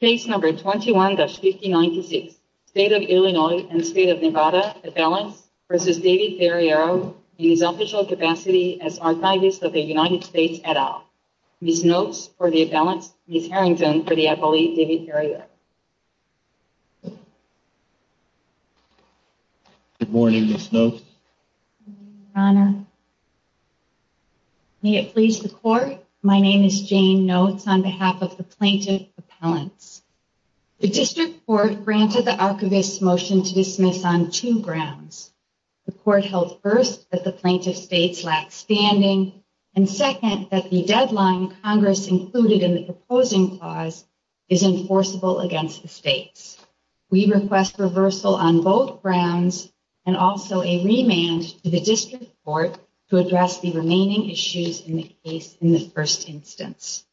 Page number 21-59-2 State of Illinois and State of Nevada Appellant v. David Ferriero in his official capacity as Archivist of the United States et al. Ms. Notes for the appellant, Ms. Harrington for the appellee, David Ferriero. Good morning, Ms. Notes. Good morning, Your Honor. May it please the Court, my name is Jane Notes on behalf of the plaintiff's appellants. The District Court granted the Archivist's motion to dismiss on two grounds. The Court held, first, that the plaintiff's case lacks standing, and second, that the deadline Congress included in the proposing clause is enforceable against the state. We request reversal on both grounds and also a remand to the District Court to address the remaining issues in the case in the first instance.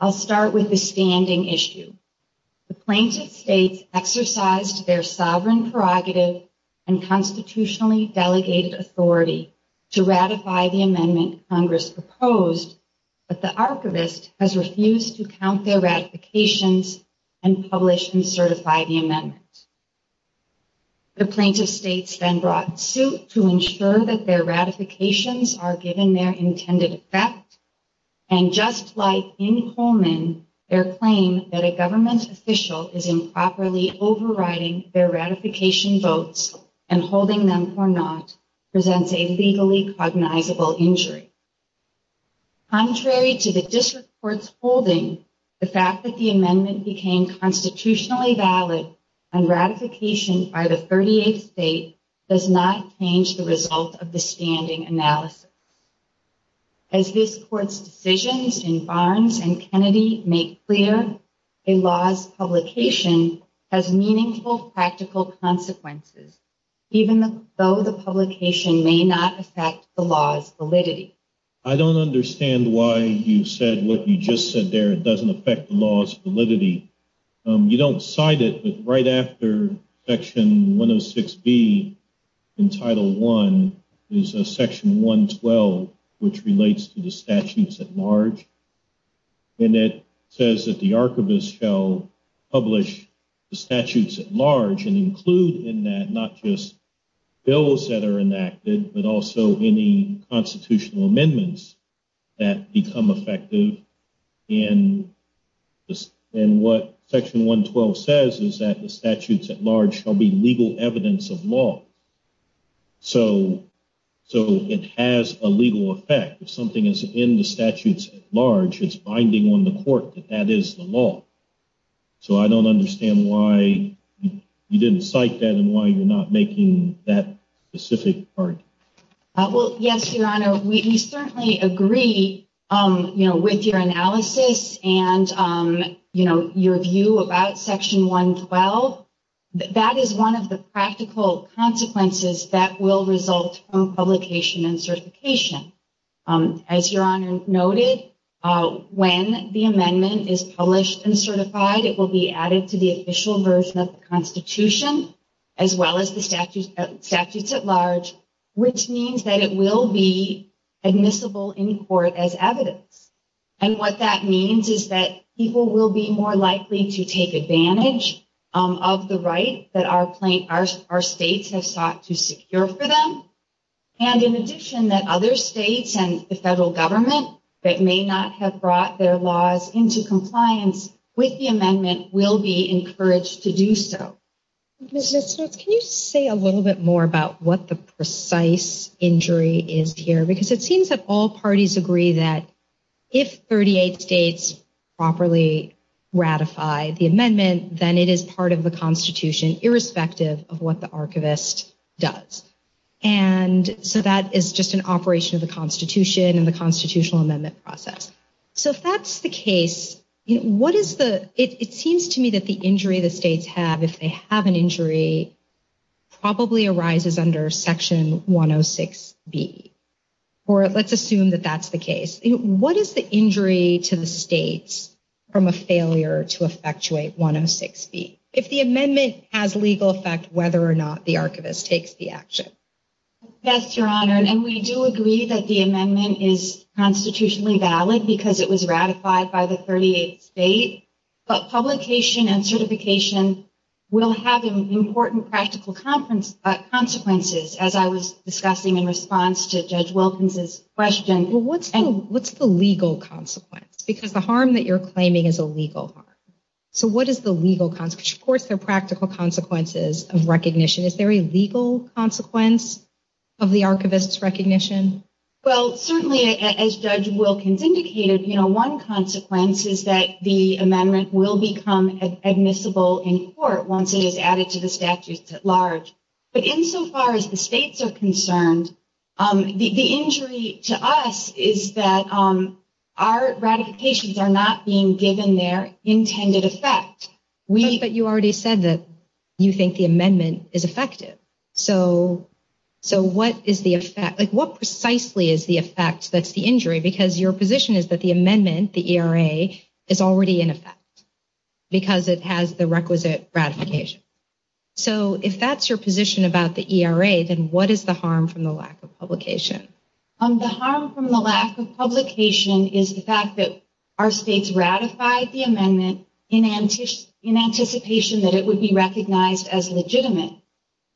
I'll start with the standing issue. The plaintiff states exercised their sovereign prerogative and constitutionally delegated authority to ratify the amendment Congress proposed, but the Archivist has refused to count their ratifications and publish and certify the amendment. The plaintiff states then brought suit to ensure that their ratifications are given their intended effect, and just like in Coleman, their claim that a government official is improperly overriding their ratification votes and holding them for not presents a legally cognizable injury. Contrary to the District Court's holding, the fact that the amendment became constitutionally valid and ratification by the 38th state does not change the result of the standing analysis. As this Court's decisions in Barnes and Kennedy make clear, a law's publication has meaningful practical consequences, even though the publication may not affect the law's validity. I don't understand why you said what you just said there, it doesn't affect the law's validity. You don't cite it, but right after Section 106B in Title I is Section 112, which relates to the statutes at large, and it says that the Archivist shall publish the statutes at large and include in that not just bills that are enacted, but also any constitutional amendments that become effective, and what Section 112 says is that the statutes at large shall be legal evidence of law. So it has a legal effect. If something is in the statutes at large, it's binding on the Court that that is the law. So I don't understand why you didn't cite that and why you're not making that specific argument. Well, yes, Your Honor, we certainly agree with your analysis and your view about Section 112. That is one of the practical consequences that will result from publication and certification. As Your Honor noted, when the amendment is published and certified, it will be added to the official version of the Constitution as well as the statutes at large, which means that it will be admissible in court as evidence. And what that means is that people will be more likely to take advantage of the rights that our state has sought to secure for them, and in addition that other states and the federal government that may not have brought their laws into compliance with the amendment will be encouraged to do so. Ms. Smith, can you say a little bit more about what the precise injury is here? Because it seems that all parties agree that if 38 states properly ratify the amendment, then it is part of the Constitution, irrespective of what the archivist does. And so that is just an operation of the Constitution and the constitutional amendment process. So if that is the case, it seems to me that the injury the states have, if they have an injury, probably arises under Section 106B, or let's assume that that is the case. What is the injury to the states from a failure to effectuate 106B? If the amendment has legal effect, whether or not the archivist takes the action. Yes, Your Honor, and we do agree that the amendment is constitutionally valid because it was ratified by the 38 states. But publication and certification will have important practical consequences, as I was discussing in response to Judge Wilkins' question. Well, what's the legal consequence? Because the harm that you're claiming is a legal harm. So what is the legal consequence? Of course, there are practical consequences of recognition. Is there a legal consequence of the archivist's recognition? Well, certainly, as Judge Wilkins indicated, one consequence is that the amendment will become admissible in court once it is added to the statute at large. But insofar as the states are concerned, the injury to us is that our ratifications are not being given their intended effect. But you already said that you think the amendment is effective. So what is the effect? What precisely is the effect that's the injury? Because your position is that the amendment, the ERA, is already in effect because it has the requisite ratification. So if that's your position about the ERA, then what is the harm from the lack of publication? The harm from the lack of publication is the fact that our states ratified the amendment in anticipation that it would be recognized as legitimate.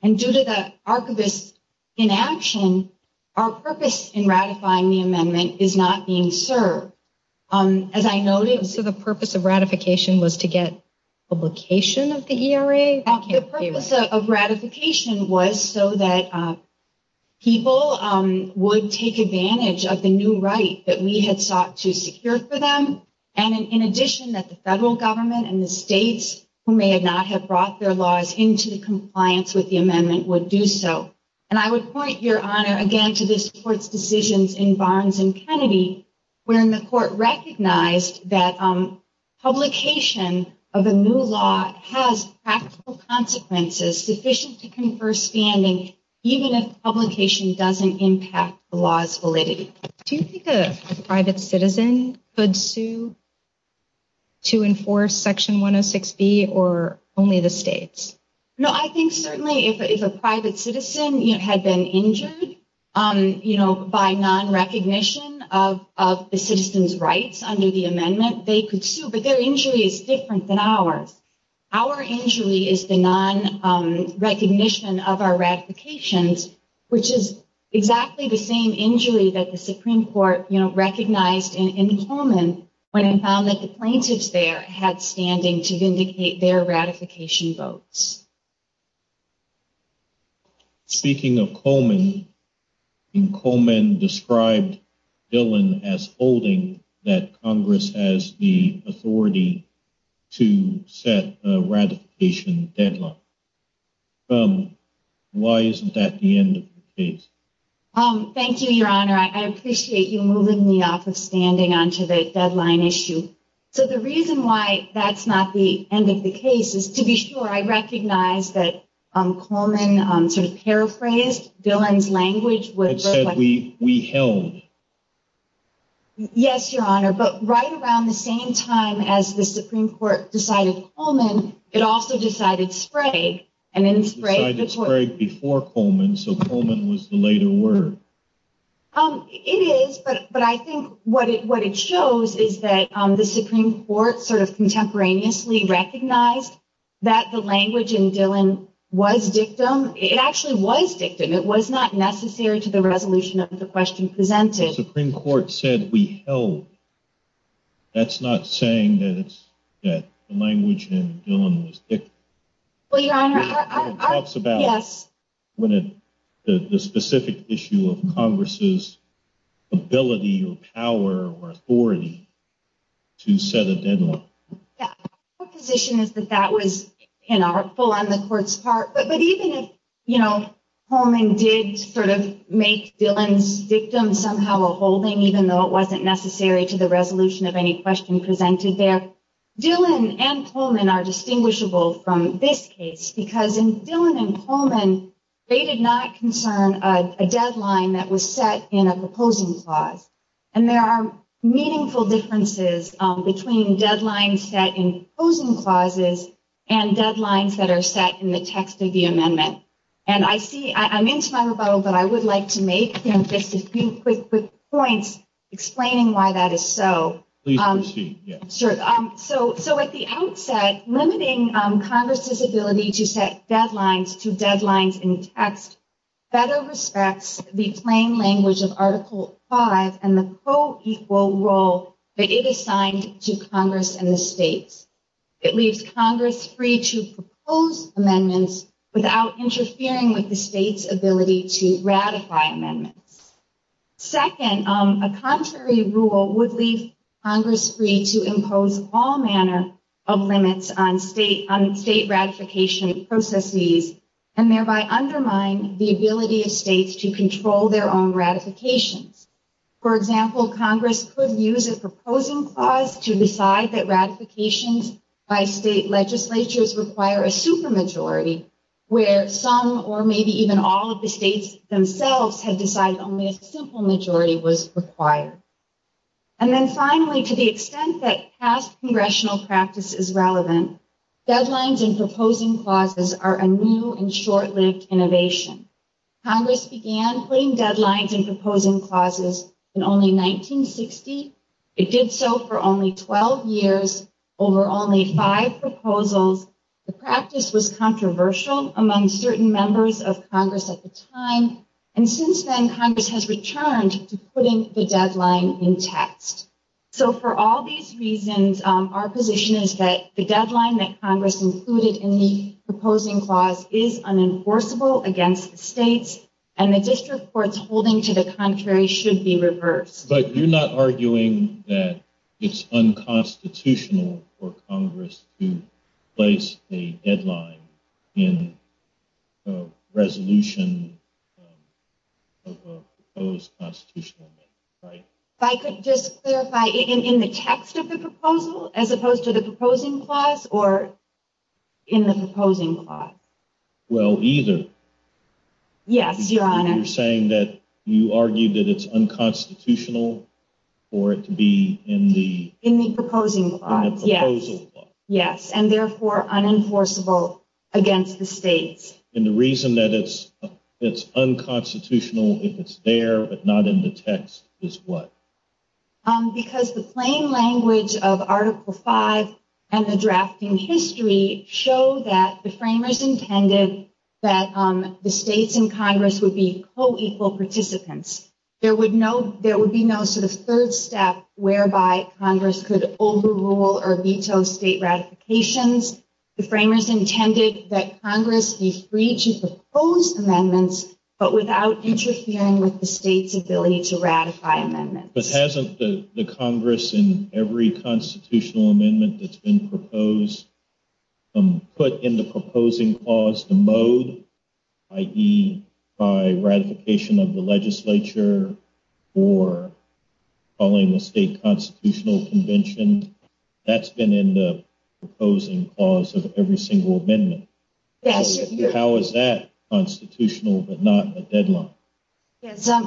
And due to the archivist's inaction, our purpose in ratifying the amendment is not being served. As I noted, the purpose of ratification was to get publication of the ERA? The purpose of ratification was so that people would take advantage of the new right that we had sought to secure for them. And in addition, that the federal government and the states who may not have brought their laws into compliance with the amendment would do so. And I would point, Your Honor, again to this Court's decisions in Barnes and Kennedy, wherein the Court recognized that publication of a new law has practical consequences sufficient to confer standing, even if publication doesn't impact the law's validity. Do you think a private citizen could sue to enforce Section 106B or only the states? No, I think certainly if a private citizen had been injured by non-recognition of the citizen's rights under the amendment, they could sue. But their injury is different than ours. Our injury is the non-recognition of our ratifications, which is exactly the same injury that the Supreme Court recognized in Coleman when it found that the plaintiffs there had standing to vindicate their ratification votes. Speaking of Coleman, Coleman described Dillon as holding that Congress has the authority to set a ratification deadline. Why isn't that the end of the case? Thank you, Your Honor. I appreciate you moving me off of standing onto the deadline issue. So the reason why that's not the end of the case is to be sure. I recognize that Coleman, to paraphrase Dillon's language, It said we held. Yes, Your Honor. But right around the same time as the Supreme Court decided Coleman, it also decided Sprague. It decided Sprague before Coleman, so Coleman was the later word. It is, but I think what it shows is that the Supreme Court sort of contemporaneously recognized that the language in Dillon was victim. It actually was victim. It was not necessary to the resolution of the question presented. Supreme Court said we held. That's not saying that the language in Dillon was victim. It talks about the specific issue of Congress's ability or power or authority to set a deadline. My position is that that was inartful on the Court's part, but even if Coleman did sort of make Dillon's victim somehow a holding, even though it wasn't necessary to the resolution of any question presented there, Dillon and Coleman are distinguishable from this case because in Dillon and Coleman, they did not concern a deadline that was set in a proposing clause. There are meaningful differences between deadlines set in proposing clauses and deadlines that are set in the text of the amendment. I'm into my rebuttal, but I would like to make just a few quick points explaining why that is so. At the outset, limiting Congress's ability to set deadlines to deadlines in text better respects the plain language of Article 5 and the co-equal role that it assigned to Congress and the states. It leaves Congress free to propose amendments without interfering with the state's ability to ratify amendments. Second, a contrary rule would leave Congress free to impose all manner of limits on state ratification process needs and thereby undermine the ability of states to control their own ratification. For example, Congress could use a proposing clause to decide that ratifications by state legislatures require a super majority where some or maybe even all of the states themselves had decided only a simple majority was required. And then finally, to the extent that past congressional practice is relevant, deadlines in proposing clauses are a new and short-lived innovation. Congress began putting deadlines in proposing clauses in only 1960. It did so for only 12 years over only five proposals. The practice was controversial among certain members of Congress at the time. And since then, Congress has returned to putting the deadline in text. So for all these reasons, our position is that the deadline that Congress included in the proposing clause is unenforceable against the states and the district courts holding to the contrary should be reversed. But you're not arguing that it's unconstitutional for Congress to place a deadline in a resolution of a proposed constitutional amendment, right? If I could just clarify, in the text of the proposal as opposed to the proposing clause or in the proposing clause? Well, either. Yes, Your Honor. You're saying that you argue that it's unconstitutional for it to be in the... In the proposing clause, yes. In the proposing clause. Yes, and therefore unenforceable against the states. And the reason that it's unconstitutional if it's there but not in the text is what? Because the plain language of Article V and the drafting history show that the framers intended that the states and Congress would be co-equal participants. There would be no sort of third step whereby Congress could overrule or veto state ratifications. The framers intended that Congress be free to propose amendments but without interfering with the state's ability to ratify amendments. But hasn't the Congress in every constitutional amendment that's been proposed put in the proposing clause the mode, i.e., by ratification of the legislature or following a state constitutional convention? That's been in the proposing clause of every single amendment. How is that constitutional but not in the deadline?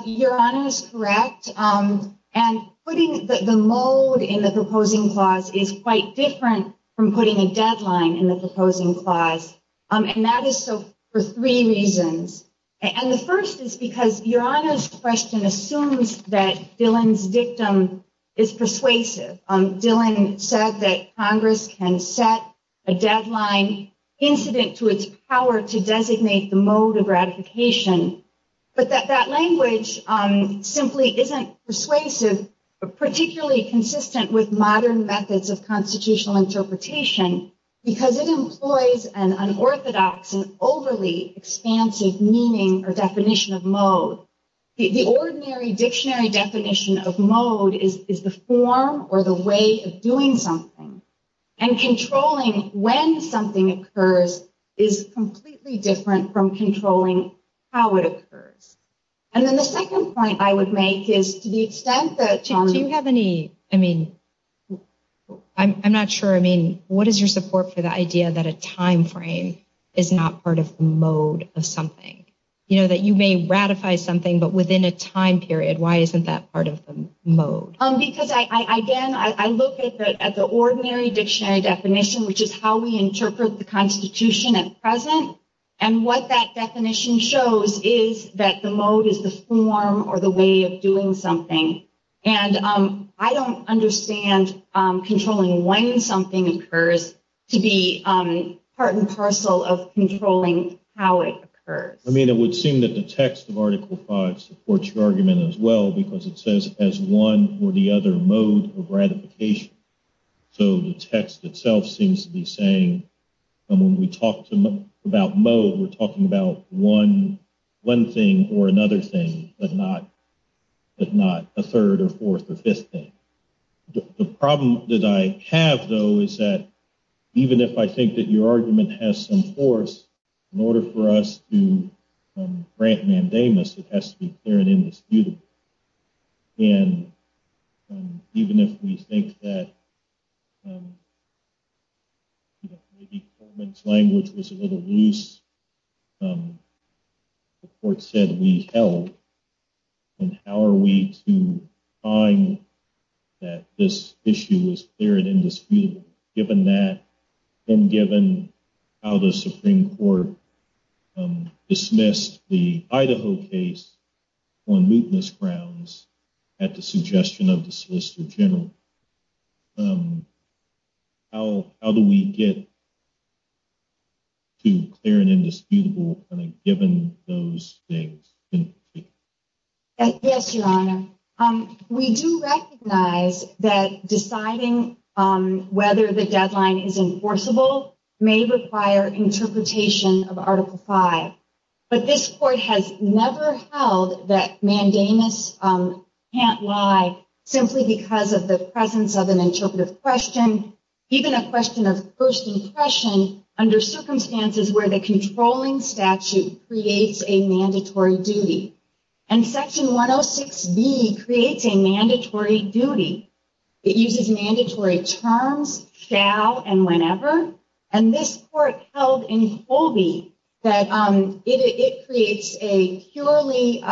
Your Honor is correct. And putting the mode in the proposing clause is quite different from putting a deadline in the proposing clause. And that is so for three reasons. And the first is because Your Honor's question assumes that Dillon's victim is persuasive. Dillon said that Congress can set a deadline incident to its power to designate the mode of ratification. But that language simply isn't persuasive or particularly consistent with modern methods of constitutional interpretation because it employs an unorthodox and overly expansive meaning or definition of mode. The ordinary dictionary definition of mode is the form or the way of doing something. And controlling when something occurs is completely different from controlling how it occurs. And then the second point I would make is to the extent that it challenges... Do you have any, I mean, I'm not sure, I mean, what is your support for the idea that a time frame is not part of the mode of something? You know, that you may ratify something but within a time period. Why isn't that part of the mode? Because, again, I look at the ordinary dictionary definition, which is how we interpret the Constitution at present. And what that definition shows is that the mode is the form or the way of doing something. And I don't understand controlling when something occurs to be part and parcel of controlling how it occurs. I mean, it would seem that the text of Article V supports your argument as well because it says it has one or the other mode of ratification. So the text itself seems to be saying when we talk about mode, we're talking about one thing or another thing, but not a third or fourth or fifth thing. The problem that I have, though, is that even if I think that your argument has some force, in order for us to grant mandamus, it has to be clear and indisputable. And even if we think that the formant's language was a little loose, the court said we held. And how are we to find that this issue was clear and indisputable, given that and given how the Supreme Court dismissed the Idaho case on mootness grounds at the suggestion of the Solicitor General? How do we get to clear and indisputable, given those things? Yes, Your Honor. We do recognize that deciding whether the deadline is enforceable may require interpretation of Article V. But this Court has never held that mandamus can't lie simply because of the presence of an interpretive question, even a question of first impression, under circumstances where the controlling statute creates a mandatory duty. And Section 106B creates a mandatory duty. It uses mandatory terms, shall and whenever. And this Court held in Holby that it creates a purely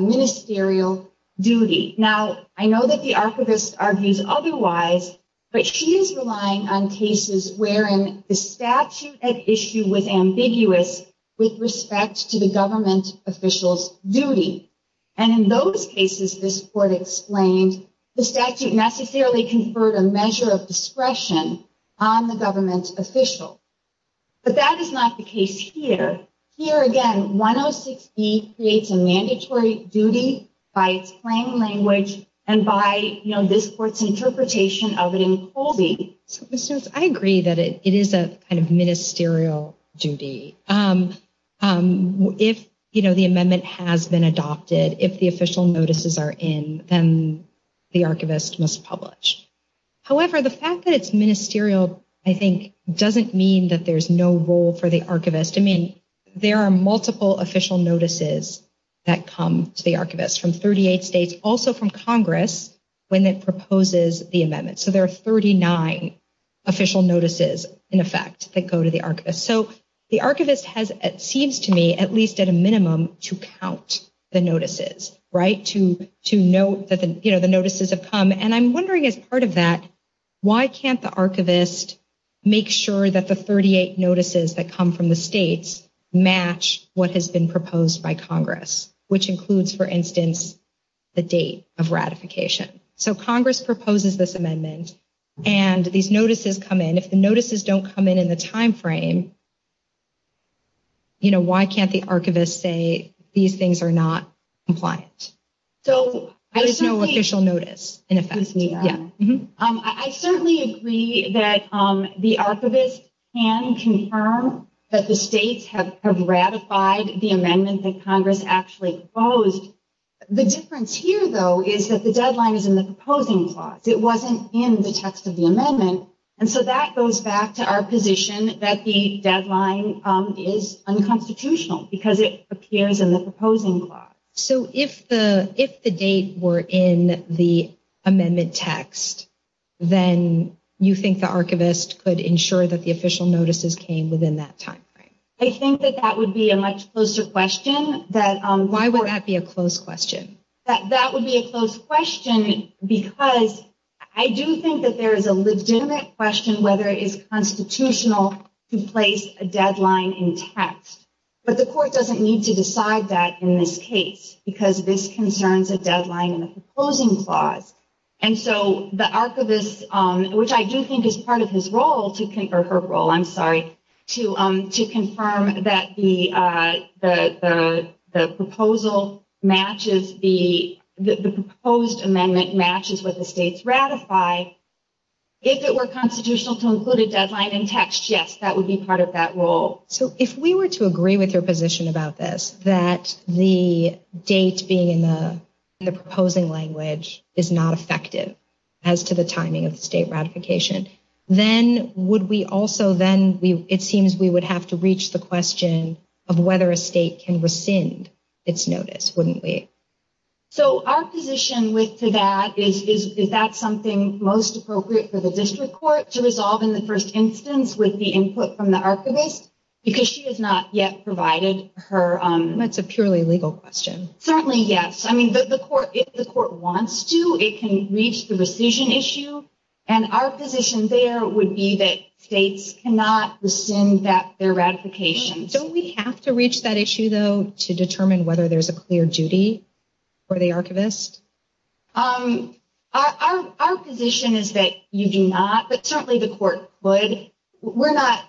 ministerial duty. Now, I know that the archivist argues otherwise, but she is relying on cases wherein the statute at issue was ambiguous with respect to the government official's duty. And in those cases, this Court explained, the statute necessarily conferred a measure of discretion on the government's official. But that is not the case here. Here, again, 106B creates a mandatory duty by its plain language and by this Court's interpretation of it in Holby. I agree that it is a kind of ministerial duty. If, you know, the amendment has been adopted, if the official notices are in, then the archivist must publish. However, the fact that it's ministerial, I think, doesn't mean that there's no role for the archivist. I mean, there are multiple official notices that come to the archivist from 38 states, also from Congress, when it proposes the amendment. So there are 39 official notices, in effect, that go to the archivist. So the archivist has, it seems to me, at least at a minimum, to count the notices, right? To note that, you know, the notices have come. And I'm wondering, as part of that, why can't the archivist make sure that the 38 notices that come from the states match what has been proposed by Congress, which includes, for instance, the date of ratification? So Congress proposes this amendment, and these notices come in. If the notices don't come in in the timeframe, you know, why can't the archivist say, these things are not compliant? There's no official notice, in effect. I certainly agree that the archivist can confirm that the states have ratified the amendment that Congress actually proposed. The difference here, though, is that the deadline is in the proposing clause. It wasn't in the text of the amendment. And so that goes back to our position that the deadline is unconstitutional, because it appears in the proposing clause. So if the dates were in the amendment text, then you think the archivist could ensure that the official notices came within that timeframe? I think that that would be a much closer question. Why would that be a close question? That would be a close question, because I do think that there is a legitimate question whether it's constitutional to place a deadline in text. But the court doesn't need to decide that in this case, because this concerns a deadline in the proposing clause. And so the archivist, which I do think is part of his role, or her role, I'm sorry, to confirm that the proposal matches the proposed amendment matches what the states ratify, if it were constitutional to include a deadline in text, yes, that would be part of that role. So if we were to agree with your position about this, that the date being in the proposing language is not effective as to the timing of the state ratification, then it seems we would have to reach the question of whether a state can rescind its notice, wouldn't we? So our position with that is, is that something most appropriate for the district court to resolve in the first instance with the input from the archivist? Because she has not yet provided her... That's a purely legal question. Certainly, yes. I mean, if the court wants to, it can reach the rescission issue. And our position there would be that states cannot rescind their ratification. So we have to reach that issue, though, to determine whether there's a clear duty for the archivist? Our position is that you do not, but certainly the court would. We're not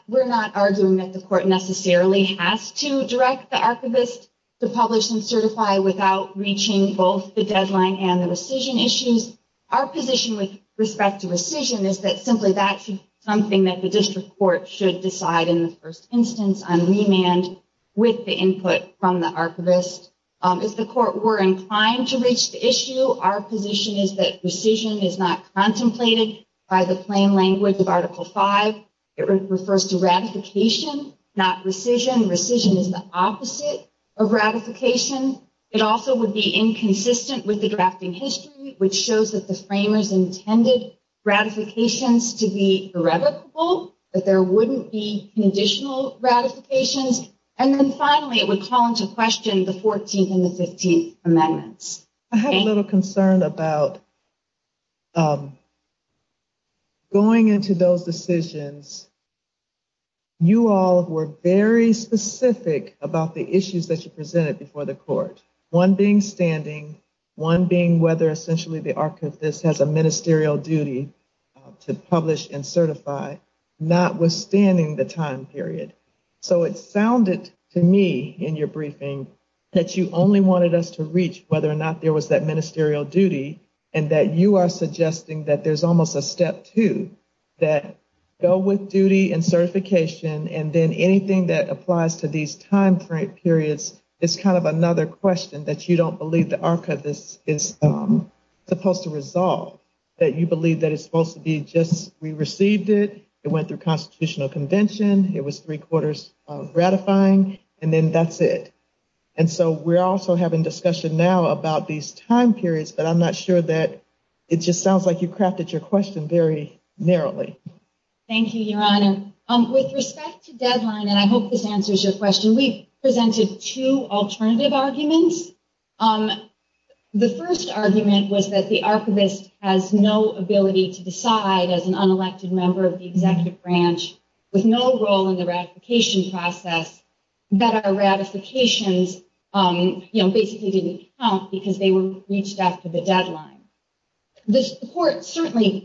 arguing that the court necessarily has to direct the archivist to publish and certify without reaching both the deadline and the rescission issues. Our position with respect to rescission is that simply that's something that the district court should decide in the first instance on remand with the input from the archivist. If the court were inclined to reach the issue, our position is that rescission is not contemplated by the plain language of Article V. It refers to ratification, not rescission. Rescission is the opposite of ratification. It also would be inconsistent with the drafting history, which shows that the framers intended ratifications to be irrevocable, that there wouldn't be conditional ratifications. And then finally, it would call into question the 14th and the 15th Amendments. I have a little concern about going into those decisions. You all were very specific about the issues that you presented before the court, one being standing, one being whether essentially the archivist has a ministerial duty to publish and certify, notwithstanding the time period. So it sounded to me in your briefing that you only wanted us to reach whether or not there was that ministerial duty and that you are suggesting that there's almost a step two, that go with duty and certification and then anything that applies to these time frame periods is kind of another question that you don't believe the archivist is supposed to resolve. That you believe that it's supposed to be just we received it, it went through constitutional convention, it was three quarters ratifying, and then that's it. And so we're also having discussion now about these time periods, but I'm not sure that it just sounds like you crafted your question very narrowly. Thank you, Your Honor. With respect to deadline, and I hope this answers your question, we presented two alternative arguments. The first argument was that the archivist has no ability to decide as an unelected member of the executive branch, with no role in the ratification process, that our ratifications basically didn't count because they weren't reached after the deadline. The court certainly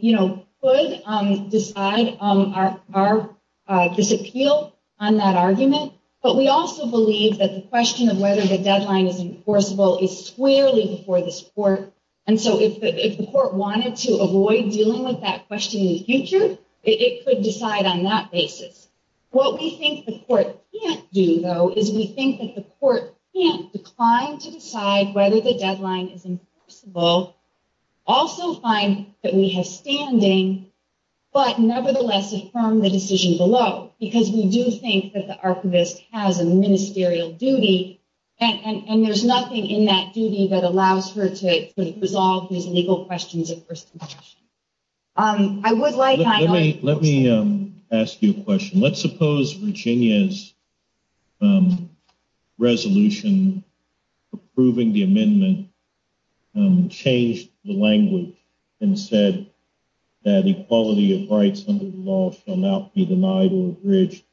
could decide our disappeal on that argument, but we also believe that the question of whether the deadline is enforceable is squarely before this court. And so if the court wanted to avoid dealing with that question in the future, it could decide on that basis. What we think the court can't do, though, is we think that the court can't decline to decide whether the deadline is enforceable, also find that we have standing, but nevertheless, affirm the decision below. Because we do think that the archivist has a ministerial duty, and there's nothing in that duty that allows her to resolve these legal questions. Let me ask you a question. Let's suppose Virginia's resolution approving the amendment changed the language and said that equality of rights under the law cannot be denied or abridged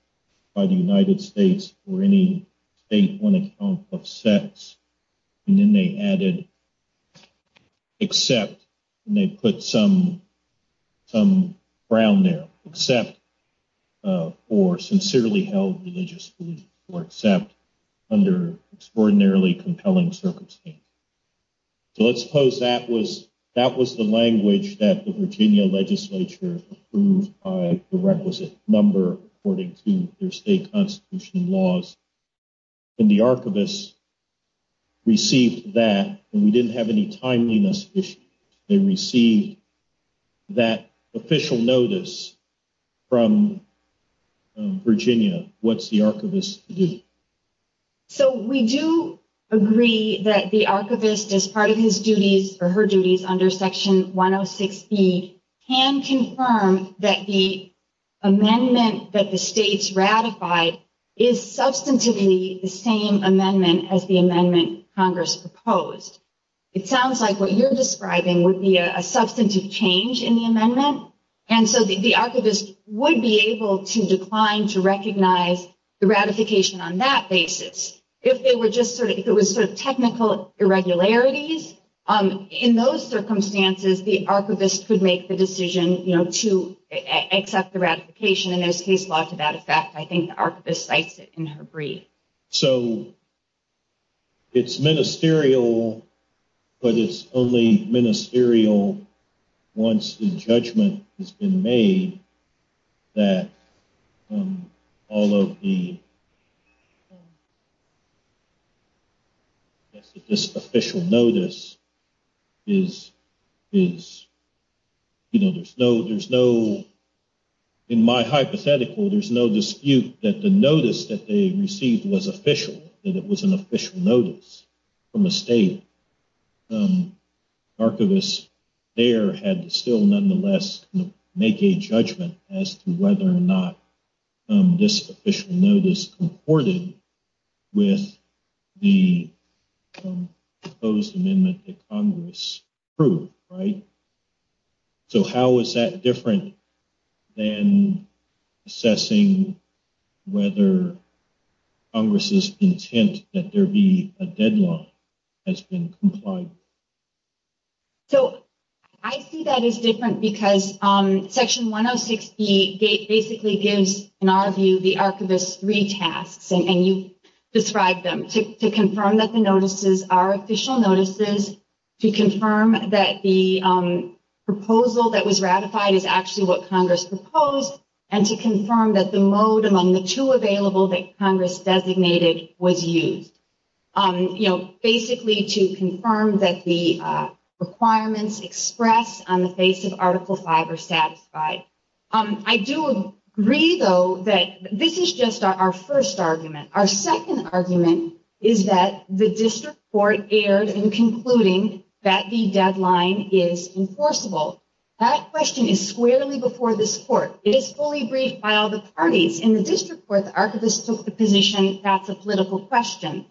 by the United States or any state when a Trump upsets. And then they added, except, and they put some brown there, except for sincerely held religious belief or except under extraordinarily compelling circumstances. So let's suppose that was the language that the Virginia legislature approved by the requisite number according to their state constitution laws. And the archivist received that, and we didn't have any timeliness issue. They received that official notice from Virginia. What's the archivist's duty? The archivist's duty is to substantiate the same amendment as the amendment Congress proposed. It sounds like what you're describing would be a substantive change in the amendment. And so the archivist would be able to decline to recognize the ratification on that basis. If it were just sort of technical irregularities, in those circumstances, the archivist could make the decision to accept the ratification. And there's case law to that effect. I think the archivist cites it in her brief. So it's ministerial, but it's only ministerial once the judgment has been made that all of the official notice is, you know, there's no, in my hypothetical, there's no dispute that the notice that they received was official, that it was an official notice from a state. The archivist there had to still nonetheless make a judgment as to whether or not this official notice comported with the proposed amendment that Congress approved, right? So how is that different than assessing whether Congress's intent that there be a deadline has been complied with? So I see that as different because Section 106B basically gives, in our view, the archivist three tasks. And you described them, to confirm that the notices are official notices, to confirm that the proposal that was ratified is actually what Congress proposed, and to confirm that the mode among the two available that Congress designated was used. You know, basically to confirm that the requirements expressed on the basis of Article V are satisfied. I do agree, though, that this is just our first argument. Our second argument is that the district court erred in concluding that the deadline is enforceable. That question is squarely before this court. It is fully briefed by all the parties. In the district court, the archivist took the position that's a political question.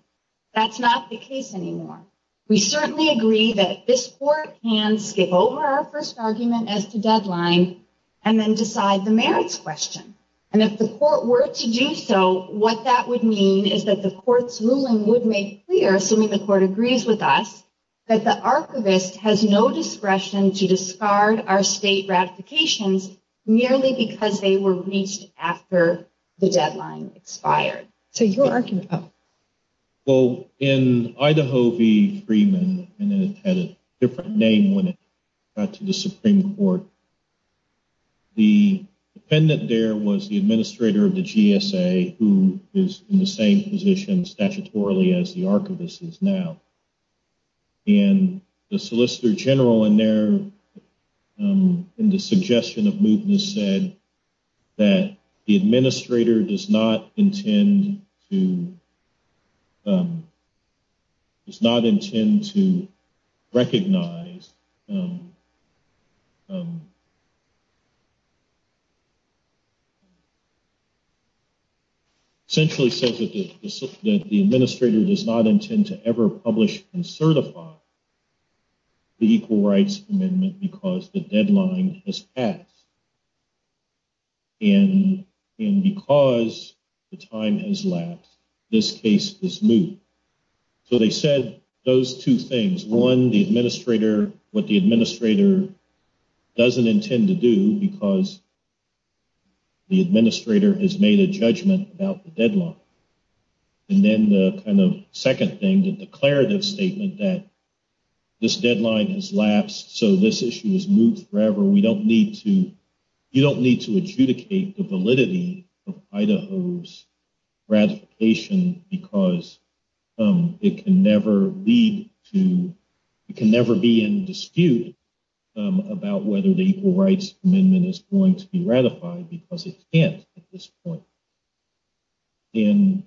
That's not the case anymore. We certainly agree that this court can skip over our first argument as to deadline and then decide the merits question. And if the court were to do so, what that would mean is that the court's ruling would make clear, assuming the court agrees with us, that the archivist has no discretion to discard our state ratifications merely because they were reached after the deadline expired. So your argument, Tom? Well, in Idaho v. Freeman, and it had a different name when it got to the Supreme Court, the defendant there was the administrator of the GSA, who is in the same position statutorily as the archivist is now. And the solicitor general in the suggestion of movement said that the administrator does not intend to recognize, essentially said that the administrator does not intend to ever publish and certify the Equal Rights Amendment because the deadline has passed. And because the time has lapsed, this case is moved. So they said those two things. One, what the administrator doesn't intend to do because the administrator has made a judgment about the deadline. And then the second thing, the declarative statement that this deadline has lapsed, so this issue is moved forever. You don't need to adjudicate the validity of Idaho's ratification because it can never be in dispute about whether the Equal Rights Amendment is going to be ratified because it can't at this point. And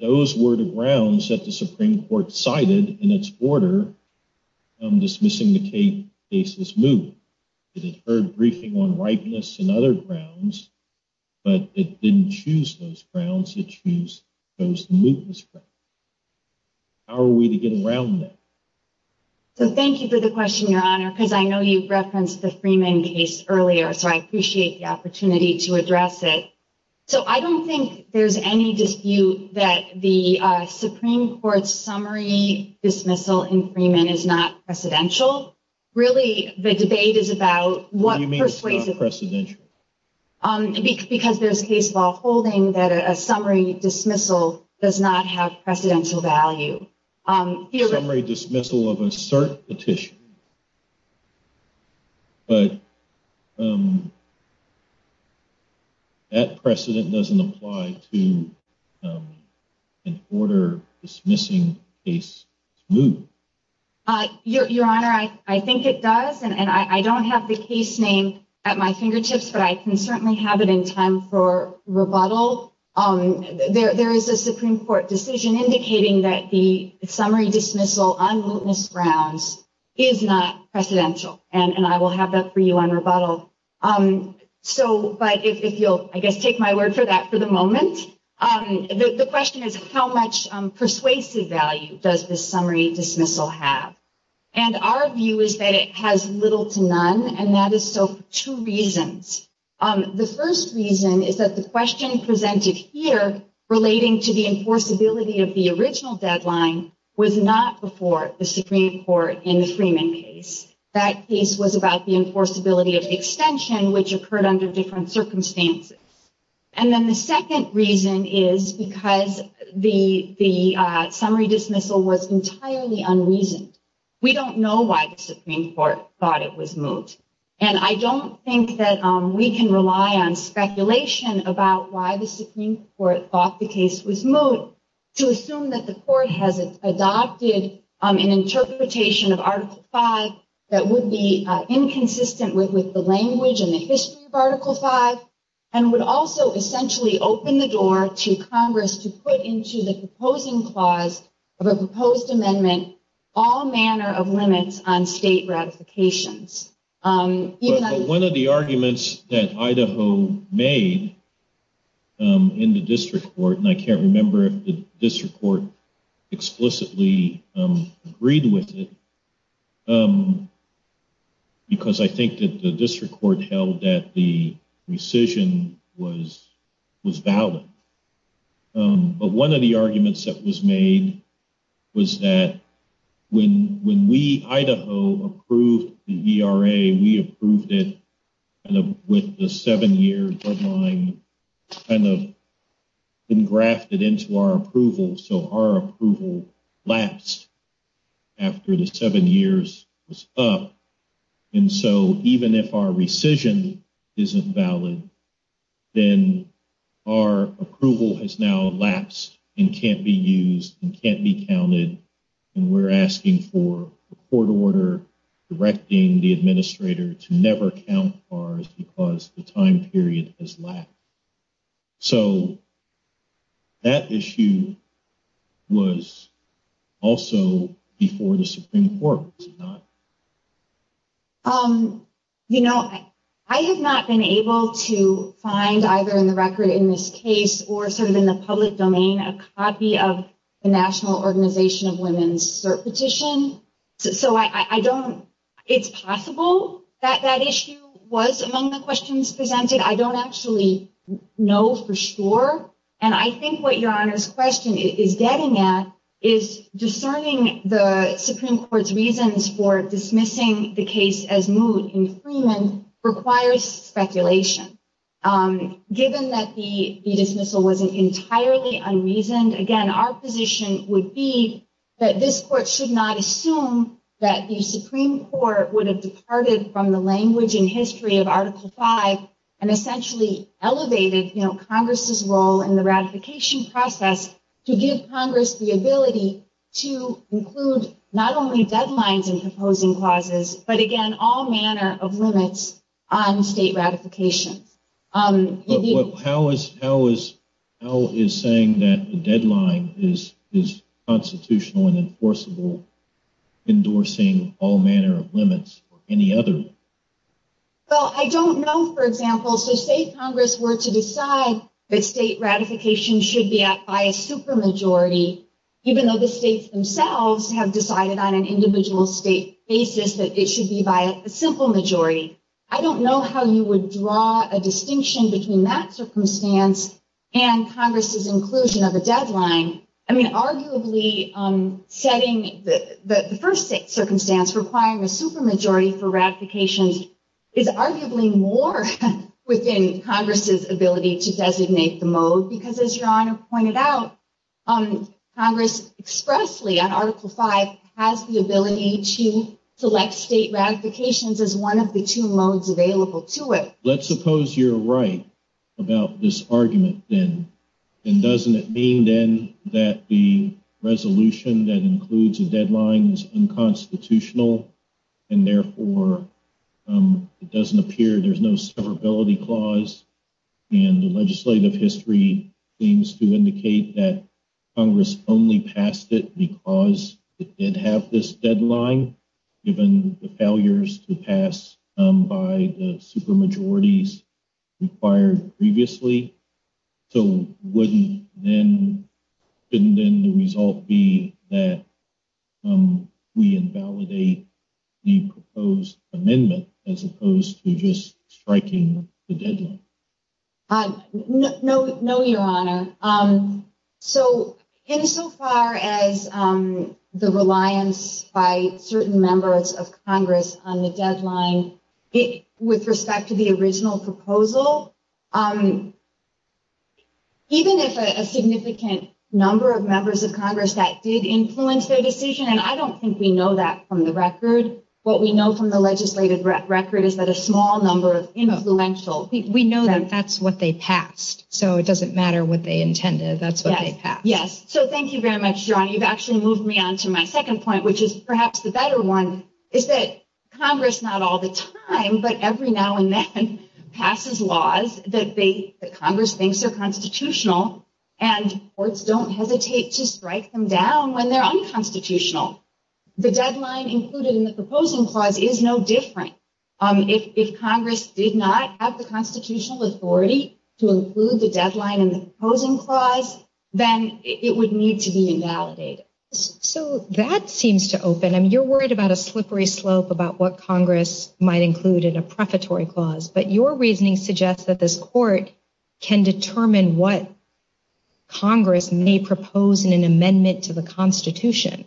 those were the grounds that the Supreme Court cited in its order dismissing the case as moved. It had heard briefing on likeness and other grounds, but it didn't choose those grounds. It chose those movements. How are we to get around that? Thank you for the question, Your Honor, because I know you referenced the Freeman case earlier, so I appreciate the opportunity to address it. So I don't think there's any dispute that the Supreme Court's summary dismissal in Freeman is not precedential. Really, the debate is about what persuades it to be. What do you mean it's not precedential? Because there's a case law holding that a summary dismissal does not have precedential value. Summary dismissal of a cert petition, but that precedent doesn't apply to an order dismissing a case moved. Your Honor, I think it does, and I don't have the case name at my fingertips, but I can certainly have it in time for rebuttal. There is a Supreme Court decision indicating that the summary dismissal on witness grounds is not precedential, and I will have that for you on rebuttal. But if you'll, I guess, take my word for that for the moment. The question is, how much persuasive value does this summary dismissal have? And our view is that it has little to none, and that is so for two reasons. The first reason is that the question presented here, relating to the enforceability of the original deadline, was not before the Supreme Court in the Freeman case. That case was about the enforceability of extension, which occurred under different circumstances. And then the second reason is because the summary dismissal was entirely unreasoned. We don't know why the Supreme Court thought it was moved. And I don't think that we can rely on speculation about why the Supreme Court thought the case was moved to assume that the Court has adopted an interpretation of Article V that would be inconsistent with the language and the history of Article V, and would also essentially open the door to Congress to put into the proposing clause of a proposed amendment all manner of limits on state ratifications. One of the arguments that Idaho made in the district court, and I can't remember if the district court explicitly agreed with it, because I think that the district court held that the decision was valid. But one of the arguments that was made was that when we, Idaho, approved the ERA, we approved it with the seven-year deadline engrafted into our approval, so our approval lapsed after the seven years was up. And so even if our rescission isn't valid, then our approval has now lapsed and can't be used and can't be counted, and we're asking for a court order directing the administrator to never count bars because the time period has lapsed. So that issue was also before the Supreme Court, was it not? You know, I have not been able to find, either in the record in this case or sort of in the public domain, a copy of the National Organization of Women's Cert Petition. So I don't – it's possible that that issue was among the questions presented. I don't actually know for sure, and I think what Your Honor's question is getting at is discerning the Supreme Court's reasons for dismissing the case as new in Freeman requires speculation. Given that the dismissal wasn't entirely unreasoned, again, our position would be that this court should not assume that the Supreme Court would have departed from the language and history of Article V and essentially elevated, you know, Congress's role in the ratification process to give Congress the ability to include not only deadlines and proposing clauses, but again, all manner of limits on state ratification. But how is saying that the deadline is constitutional and enforceable endorsing all manner of limits or any other? Well, I don't know, for example, if the state Congress were to decide that state ratification should be by a supermajority, even though the states themselves have decided on an individual state basis that it should be by a simple majority. I don't know how you would draw a distinction between that circumstance and Congress's inclusion of a deadline. I mean, arguably setting the first state circumstance requiring a supermajority for ratification is arguably more within Congress's ability to designate the mode, because as Your Honor pointed out, Congress expressly on Article V has the ability to select state ratifications as one of the two modes available to it. Let's suppose you're right about this argument then. And doesn't it mean then that the resolution that includes a deadline is unconstitutional and therefore it doesn't appear there's no severability clause? And the legislative history seems to indicate that Congress only passed it because it did have this deadline, given the failures to pass by the supermajorities required previously. So wouldn't then the result be that we invalidate the proposed amendment as opposed to just striking the deadline? No, Your Honor. So insofar as the reliance by certain members of Congress on the deadline, with respect to the original proposal, even if a significant number of members of Congress that did influence their decision, and I don't think we know that from the record. What we know from the legislative record is that a small number of influentials. We know that that's what they passed. So it doesn't matter what they intended. That's what they passed. Yes. So thank you very much, Your Honor. You've actually moved me on to my second point, which is perhaps the better one, is that Congress not all the time, but every now and then, passes laws that Congress thinks are constitutional, and courts don't hesitate to strike them down when they're unconstitutional. The deadline included in the proposal clause is no different. If Congress did not have the constitutional authority to include the deadline in the proposal clause, then it would need to be invalidated. So that seems to open. I mean, you're worried about a slippery slope about what Congress might include in a preparatory clause, but your reasoning suggests that this court can determine what Congress may propose in an amendment to the Constitution.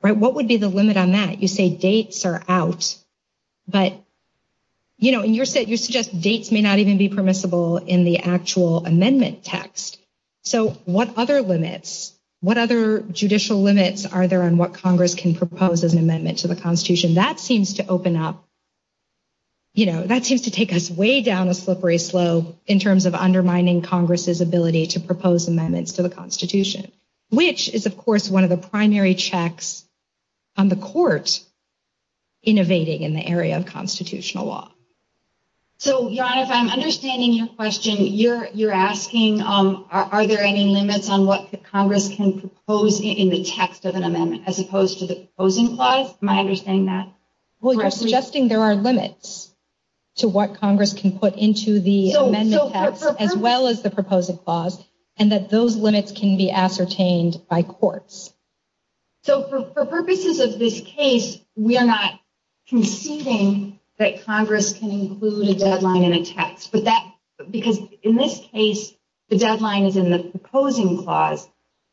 What would be the limit on that? You say dates are out, but you suggest dates may not even be permissible in the actual amendment text. So what other limits, what other judicial limits are there on what Congress can propose as an amendment to the Constitution? That seems to open up, you know, that seems to take us way down the slippery slope in terms of undermining Congress's ability to propose amendments to the Constitution, which is, of course, one of the primary checks on the court innovating in the area of constitutional law. So, Yoneth, I'm understanding your question. You're asking, are there any limits on what Congress can propose in the text of an amendment as opposed to the proposing clause? Am I understanding that correctly? Well, you're suggesting there are limits to what Congress can put into the amendment text as well as the proposed clause, and that those limits can be ascertained by courts. So for purposes of this case, we are not conceding that Congress can include a deadline in a text, because in this case, the deadline is in the proposing clause.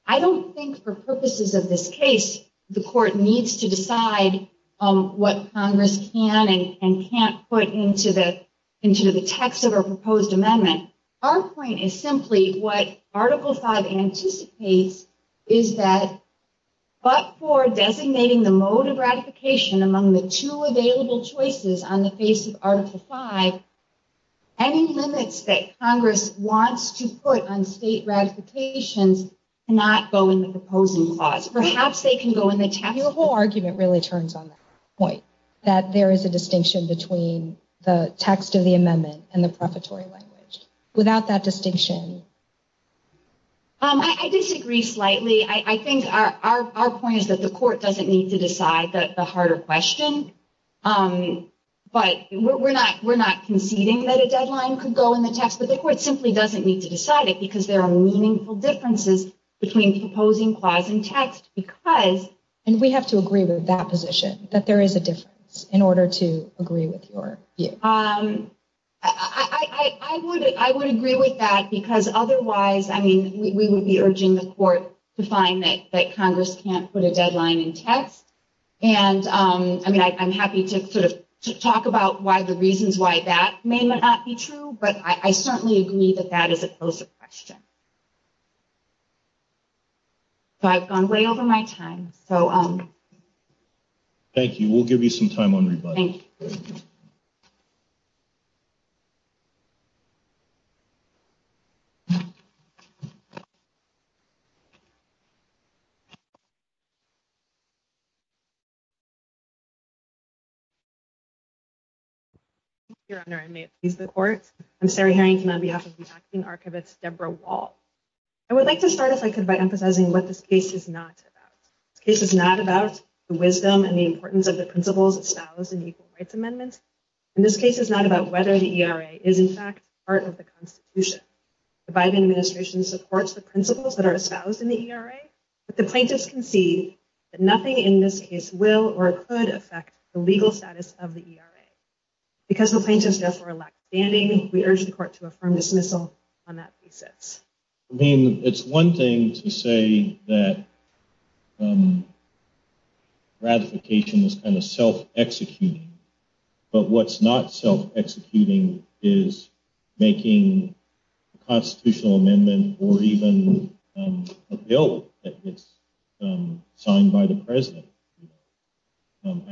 I don't think for purposes of this case, the court needs to decide what Congress can and can't put into the text of a proposed amendment. Our point is simply what Article V anticipates is that but for designating the mode of ratification among the two available choices on the face of Article V, any limits that Congress wants to put on state ratification cannot go in the proposing clause. Perhaps they can go in the text. The whole argument really turns on that point, that there is a distinction between the text of the amendment and the preparatory language. Without that distinction... I disagree slightly. I think our point is that the court doesn't need to decide the harder question, but we're not conceding that a deadline could go in the text, but the court simply doesn't need to decide it, because there are meaningful differences between the proposing clause and text, because... And we have to agree with that position, that there is a difference, in order to agree with your view. I would agree with that, because otherwise, I mean, we would be urging the court to find that Congress can't put a deadline in text, and, I mean, I'm happy to sort of talk about why the reasons why that may not be true, but I certainly agree that that is a closer question. So I've gone way over my time, so... Thank you. We'll give you some time on revising. Thank you. Thank you, Your Honor. I may excuse the court. I'm Sarah Harrington, on behalf of the Acting Archivist, Deborah Wall. I would like to start, if I could, by emphasizing what this case is not about. This case is not about the wisdom and the importance of the principles espoused in the Equal Rights Amendment. And this case is not about whether the ERA is, in fact, part of the Constitution. The Biden administration supports the principles that are espoused in the ERA, but the plaintiffs concede that nothing in this case will or could affect the legal status of the ERA. Because the plaintiffs' deaths were a lack of standing, we urge the court to affirm dismissal on that thesis. I mean, it's one thing to say that ratification is kind of self-executing, but what's not self-executing is making a constitutional amendment or even a bill that gets signed by the president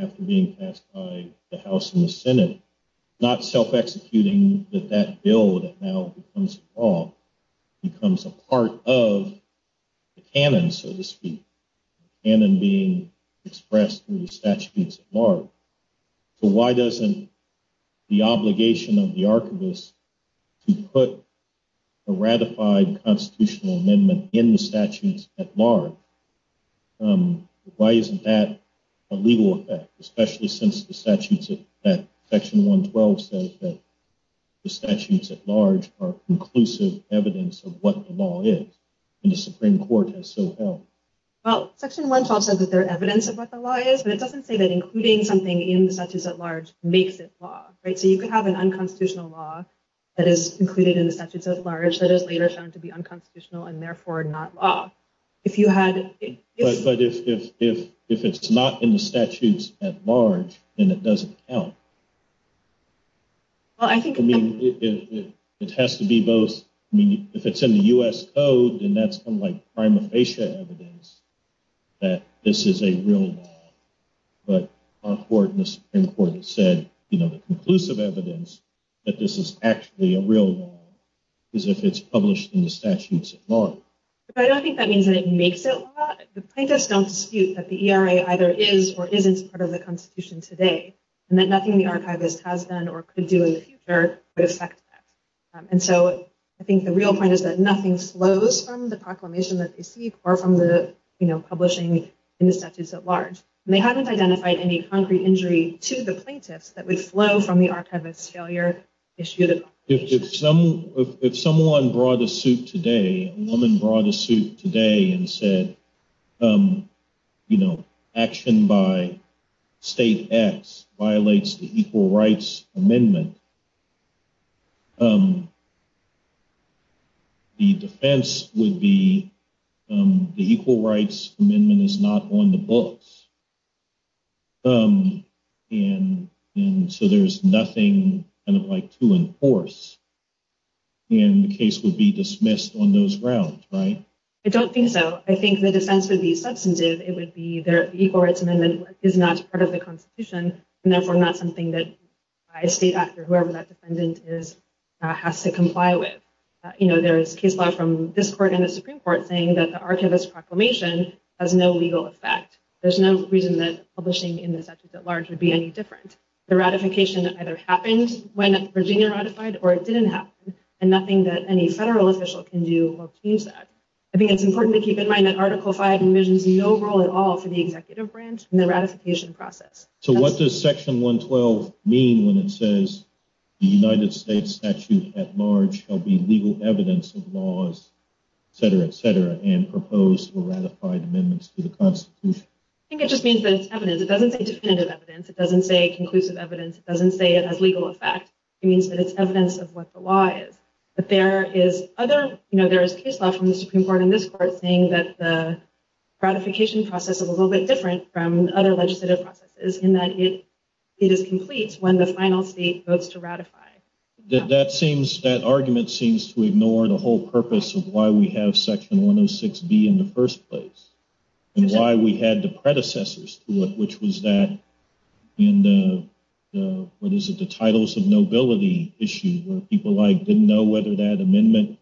after being passed by the House and the Senate. Not self-executing that that bill that now becomes a law, becomes a part of the canon, so to speak, and in being expressed in the statutes at large. So why doesn't the obligation of the archivist to put a ratified constitutional amendment in the statutes at large, why isn't that a legal effect, especially since the statutes, Section 112 says that the statutes at large are conclusive evidence of what the law is, and the Supreme Court has so held. Well, Section 112 says that they're evidence of what the law is, but it doesn't say that including something in the statutes at large makes it law. So you could have an unconstitutional law that is included in the statutes at large that is later found to be unconstitutional and therefore not law. But if it's not in the statutes at large, then it doesn't count. It has to be both. If it's in the U.S. Code, then that's unlike prima facie evidence that this is a real law. But our Supreme Court has said, you know, the conclusive evidence that this is actually a real law is if it's published in the statutes at large. But I don't think that means that it makes it law. The plaintiffs don't dispute that the ERA either is or isn't part of the Constitution today, and that nothing the Archivist has done or could do in the future would affect that. And so I think the real point is that nothing flows from the proclamation that they seek or from the, you know, publishing in the statutes at large. And they haven't identified any concrete injury to the plaintiffs that would flow from the Archivist's failure. If someone brought a suit today, a woman brought a suit today and said, you know, action by state acts violates the Equal Rights Amendment, the defense would be the Equal Rights Amendment is not on the books. And so there's nothing kind of like to enforce. And the case would be dismissed on those grounds, right? I don't think so. I think the defense would be substantive. It would be that the Equal Rights Amendment is not part of the Constitution and therefore not something that a state act or whoever that defendant is has to comply with. You know, there is case law from this court and the Supreme Court saying that the Archivist's proclamation has no legal effect. There's no reason that publishing in the statutes at large would be any different. The ratification either happened when Virginia ratified or it didn't happen and nothing that any federal official can do will change that. I think it's important to keep in mind that Article V envisions no role at all for the executive branch in the ratification process. So what does Section 112 mean when it says the United States statutes at large shall be legal evidence of laws, etc., etc., and propose or ratify amendments to the Constitution? I think it just means that it's evidence. It doesn't say definitive evidence. It doesn't say conclusive evidence. It doesn't say it has legal effect. It means that it's evidence of what the law is. But there is other, you know, there is case law from the Supreme Court and this court saying that the ratification process is a little bit different from other legislative processes in that it is complete when the final state votes to ratify. That argument seems to ignore the whole purpose of why we have Section 106B in the first place and why we had the predecessors to it, which was that in the titles of nobility issue where people didn't know whether that amendment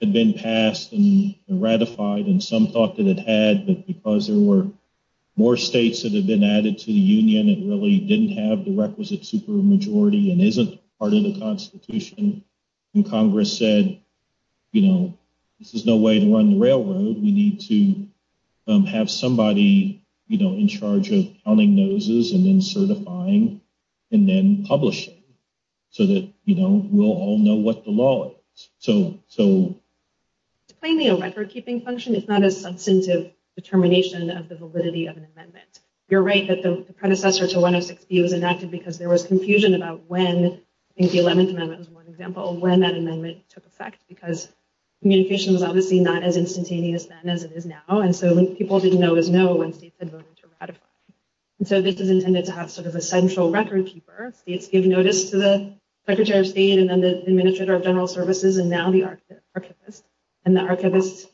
had been passed and ratified and some thought that it had, but because there were more states that had been added to the union that really didn't have the requisite supermajority and isn't part of the Constitution, and Congress said, you know, this is no way to run the railroad. We need to have somebody, you know, in charge of plumbing noses and then certifying and then publishing so that, you know, we'll all know what the law is. So... Claiming a record-keeping function is not a substantive determination of the validity of an amendment. You're right that the predecessor to 106B was enacted because there was confusion about when, I think the 11th Amendment was one example, when that amendment took effect because communication was obviously not as instantaneous then as it is now and so people didn't always know when states had voted to ratify. So this is intended to have sort of a central record-keeper. It gave notice to the Secretary of State and then the Administrator of General Services and now the Archivist. And the Archivist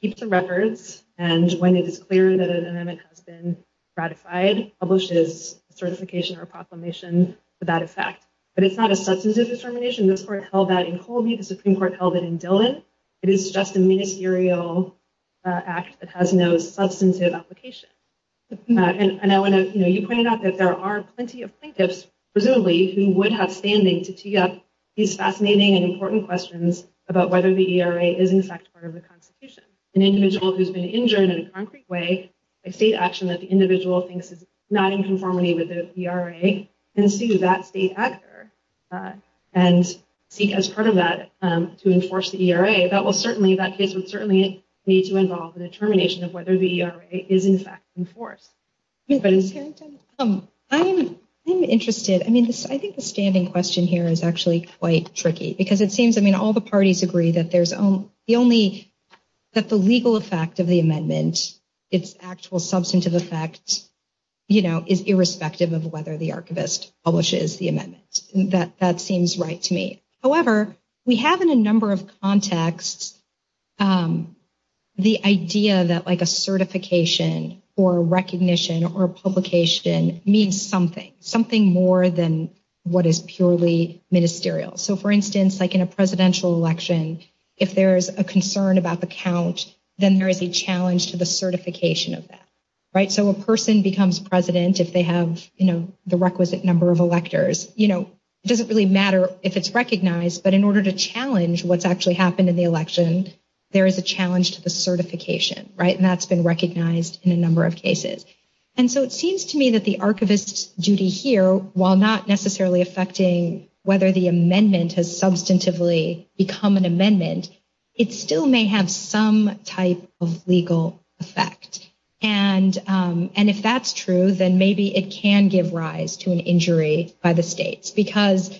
keeps the records and when it is clear that an amendment has been ratified, publishes a certification or a proclamation for that effect. But it's not a substantive determination. The Supreme Court held that in Holden, the Supreme Court held that in Dillon. It is just a ministerial act that has no substantive application. And I want to, you know, you pointed out that there are plenty of plaintiffs, presumably, who would have standing to tee up these fascinating and important questions about whether the ERA is in fact part of the Constitution. An individual who has been injured in a concrete way, a state action that the individual thinks is not in conformity with the ERA, can sue that state actor and seek as part of that to enforce the ERA, that will certainly, that state would certainly need to involve in the determination of whether the ERA is in fact enforced. Anybody? I'm interested. I mean, I think the standing question here is actually quite tricky because it seems, I mean, all the parties agree that there's only, that the legal effect of the amendment, its actual substantive effect, you know, is irrespective of whether the archivist publishes the amendment. That seems right to me. However, we have in a number of contexts the idea that like a certification or a recognition or a publication means something, something more than what is purely ministerial. So, for instance, like in a presidential election, if there is a concern about the count, then there is a challenge to the certification of that, right? So, a person becomes president if they have, you know, the requisite number of electors. You know, it doesn't really matter if it's recognized, but in order to challenge what's actually happened in the election, there is a challenge to the certification, right? And that's been recognized in a number of cases. And so, it seems to me that the archivist's duty here, while not necessarily affecting whether the amendment has substantively become an amendment, it still may have some type of legal effect. And if that's true, then maybe it can give rise to an injury by the states because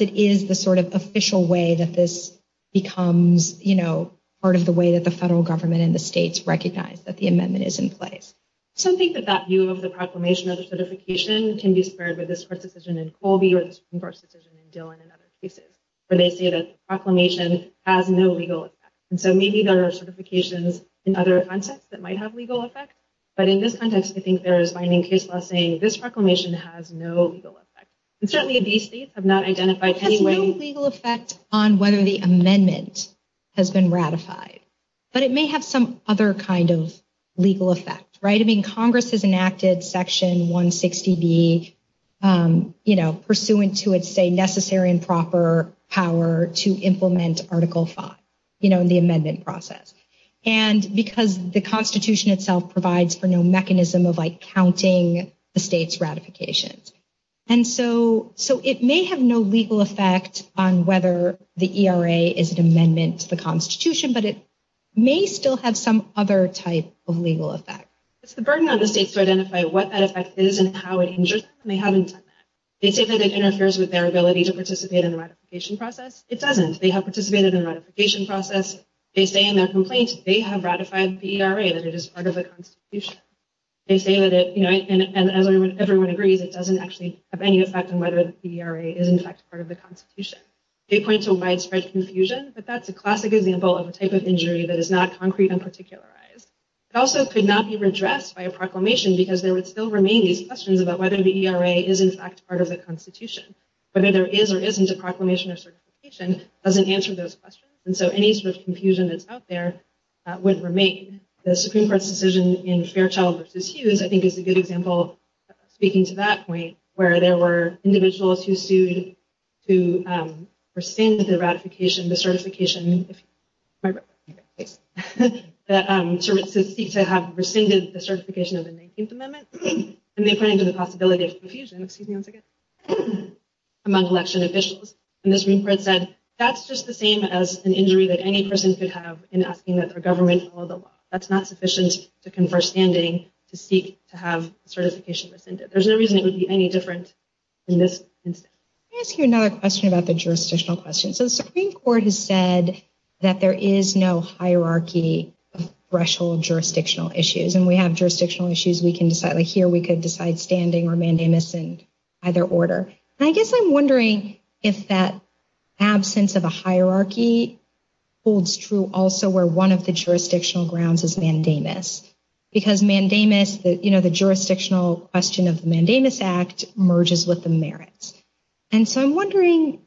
it is the sort of official way that this becomes, you know, part of the way that the federal government and the states recognize that the amendment is in place. Some think that that view of the proclamation of certification can be spurred by this court decision in Colby or this Supreme Court decision in Dillon and other cases. But they say that proclamation has no legal effect. And so, maybe there are certifications in other contexts that might have legal effect, but in this context, I think there is binding case law saying this proclamation has no legal effect. And certainly, these states have not identified any legal effect on whether the amendment has been ratified. But it may have some other kind of legal effect, right? I mean, Congress has enacted Section 160B, you know, pursuant to its, say, necessary and proper power to implement Article 5, you know, in the amendment process. And because the Constitution itself provides for no mechanism of, like, counting the states' ratifications. And so, it may have no legal effect on whether the ERA is an amendment to the Constitution, but it may still have some other type of legal effect. It's the burden on the states to identify what that effect is and how it injures them. They haven't done that. They say that it interferes with their ability to participate in the ratification process. It doesn't. They have participated in the ratification process. They say in their complaints they have ratified the ERA, that it is part of the Constitution. They say that it, you know, and everyone agrees it doesn't actually have any effect on whether the ERA is, in fact, part of the Constitution. They point to widespread confusion. But that's a classic example of a type of injury that is not concrete and particularized. It also could not be redressed by a proclamation because there would still remain these questions about whether the ERA is, in fact, part of the Constitution. Whether there is or isn't a proclamation or certification doesn't answer those questions. And so, any sort of confusion that's out there would remain. The Supreme Court's decision in Fairchild v. Hughes, I think, is a good example, speaking to that point, where there were individuals who sued to rescind the ratification, the certification, to seek to have rescinded the certification of the 19th Amendment. And they pointed to the possibility of confusion, excuse me one second, among election officials. And the Supreme Court said, that's just the same as an injury that any person could have in asking that their government follow the law. That's not sufficient to confer standing to seek to have certification rescinded. There's no reason it would be any different in this instance. Let me ask you another question about the jurisdictional question. So, the Supreme Court has said that there is no hierarchy of threshold jurisdictional issues. And we have jurisdictional issues we can decide, like here we could decide standing or mandamus in either order. And I guess I'm wondering if that absence of a hierarchy holds true also where one of the jurisdictional grounds is mandamus. Because mandamus, you know, the jurisdictional question of the Mandamus Act merges with the merits. And so I'm wondering,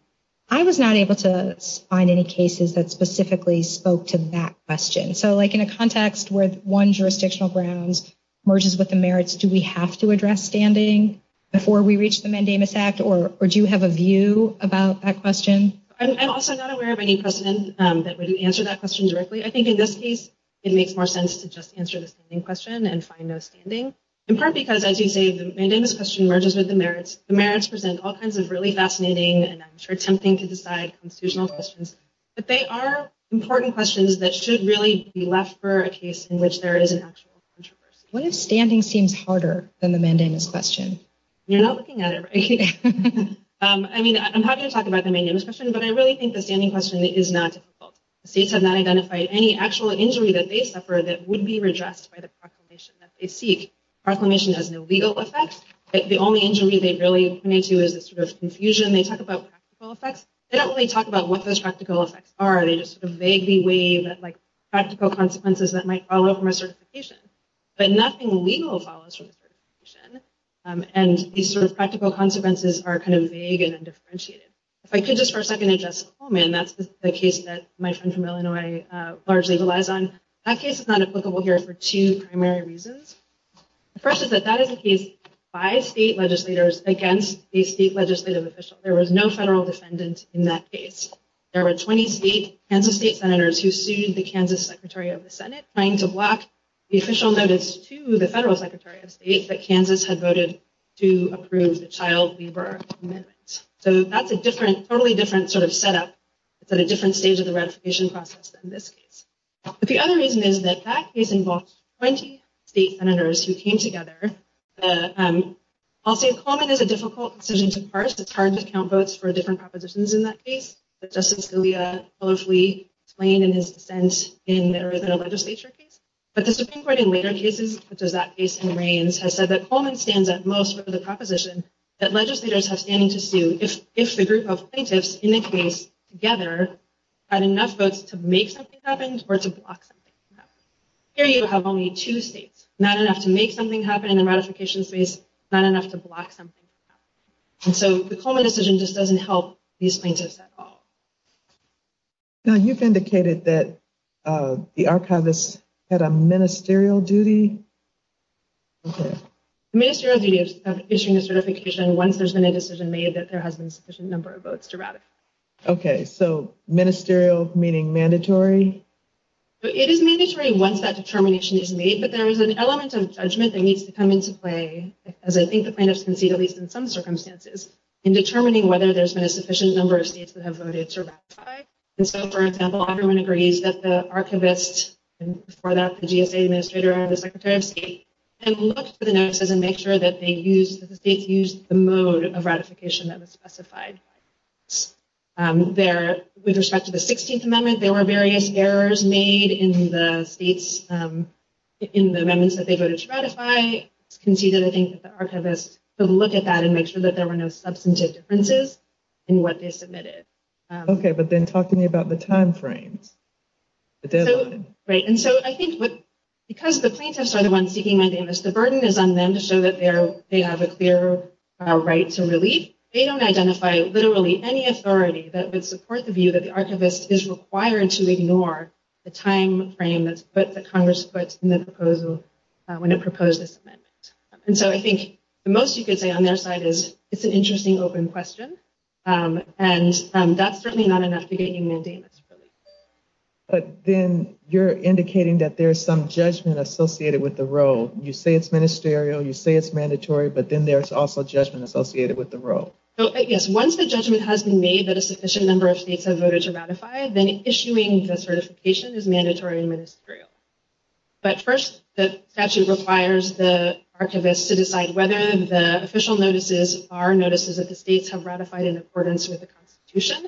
I was not able to find any cases that specifically spoke to that question. So like in a context where one jurisdictional grounds merges with the merits, do we have to address standing before we reach the Mandamus Act or do you have a view about that question? I'm also not aware of any precedent that would answer that question directly. I think in this case, it makes more sense to just answer the standing question and find the standing. In part because, as you say, the mandamus question merges with the merits. The merits present all kinds of really fascinating and I'm sure tempting to decide constitutional questions. But they are important questions that should really be left for a case in which there is an actual contradiction. What if standing seems harder than the mandamus question? You're not looking at it, right? I mean, I'm happy to talk about the mandamus question, but I really think the standing question is not difficult. The states have not identified any actual injury that they suffer that would be rejected by the proclamation that they seek. Proclamation has no legal effects. The only injury they really need to is a sort of confusion. They talk about practical effects. They don't really talk about what those practical effects are. They just sort of vaguely wave at like practical consequences that might follow from a certification. But nothing legal follows from a certification. And these sort of practical consequences are kind of vague and undifferentiated. If I could just for a second address Coleman, that's the case that my friend from Illinois largely relies on. That case is not applicable here for two primary reasons. The first is that that is a case of five state legislators against a state legislative official. There was no federal defendant in that case. There were 20 state, Kansas state senators who sued the Kansas Secretary of the Senate, trying to block the official notice to the federal secretary of state that Kansas had voted to approve the child labor amendment. So that's a totally different sort of setup. It's at a different stage of the ratification process than this case. But the other reason is that that case involves 20 state senators who came together. Also, Coleman is a difficult decision to parse. It's hard to count votes for different propositions in that case. Justice Scalia hopefully explained in his defense in a legislature case. But the Supreme Court in later cases, such as that case in Reims, has said that Coleman stands at most for the proposition that legislators have standing to sue if the group of plaintiffs in this case together had enough votes to make something happen or to block something happen. Here you have only two states, not enough to make something happen in the ratification space, not enough to block something happen. And so the Coleman decision just doesn't help these plaintiffs at all. Now, you've indicated that the archivist had a ministerial duty. Okay. Ministerial duty is issuing a certification once there's been a decision made that there has been a sufficient number of votes to ratify. Okay. So ministerial meaning mandatory? It is mandatory once that determination is made. But there is an element of judgment that needs to come into play, as I think the plaintiffs can see, at least in some circumstances, in determining whether there's been a sufficient number of states that have voted to ratify. And so, for example, everyone agrees that the archivist, and before that the GSA administrator or the secretary of state, and look for the notices and make sure that they use, that the state used the mode of ratification that was specified. With respect to the 16th amendment, there were various errors made in the states, in the amendments that they voted to ratify, conceded, I think, that the archivist, so look at that and make sure that there were no substantive differences in what they submitted. Okay. But then talk to me about the timeframe. Right. And so, I think because the plaintiffs are the ones seeking mundaneness, the burden is on them to show that they have a fair right to relief. They don't identify literally any authority that would support the view that the archivist is required to ignore the timeframe that Congress put in the proposal when it proposed this amendment. And so, I think the most you could say on their side is it's an interesting open question. And that's certainly not enough to get you mundaneness. But then you're indicating that there's some judgment associated with the role. You say it's ministerial, you say it's mandatory, but then there's also judgment associated with the role. Yes. Once the judgment has been made that a sufficient number of states have voted to ratify, then issuing the certification is mandatory and ministerial. But first, the statute requires the archivist to decide whether the official notices are notices that the states have ratified in accordance with the Constitution.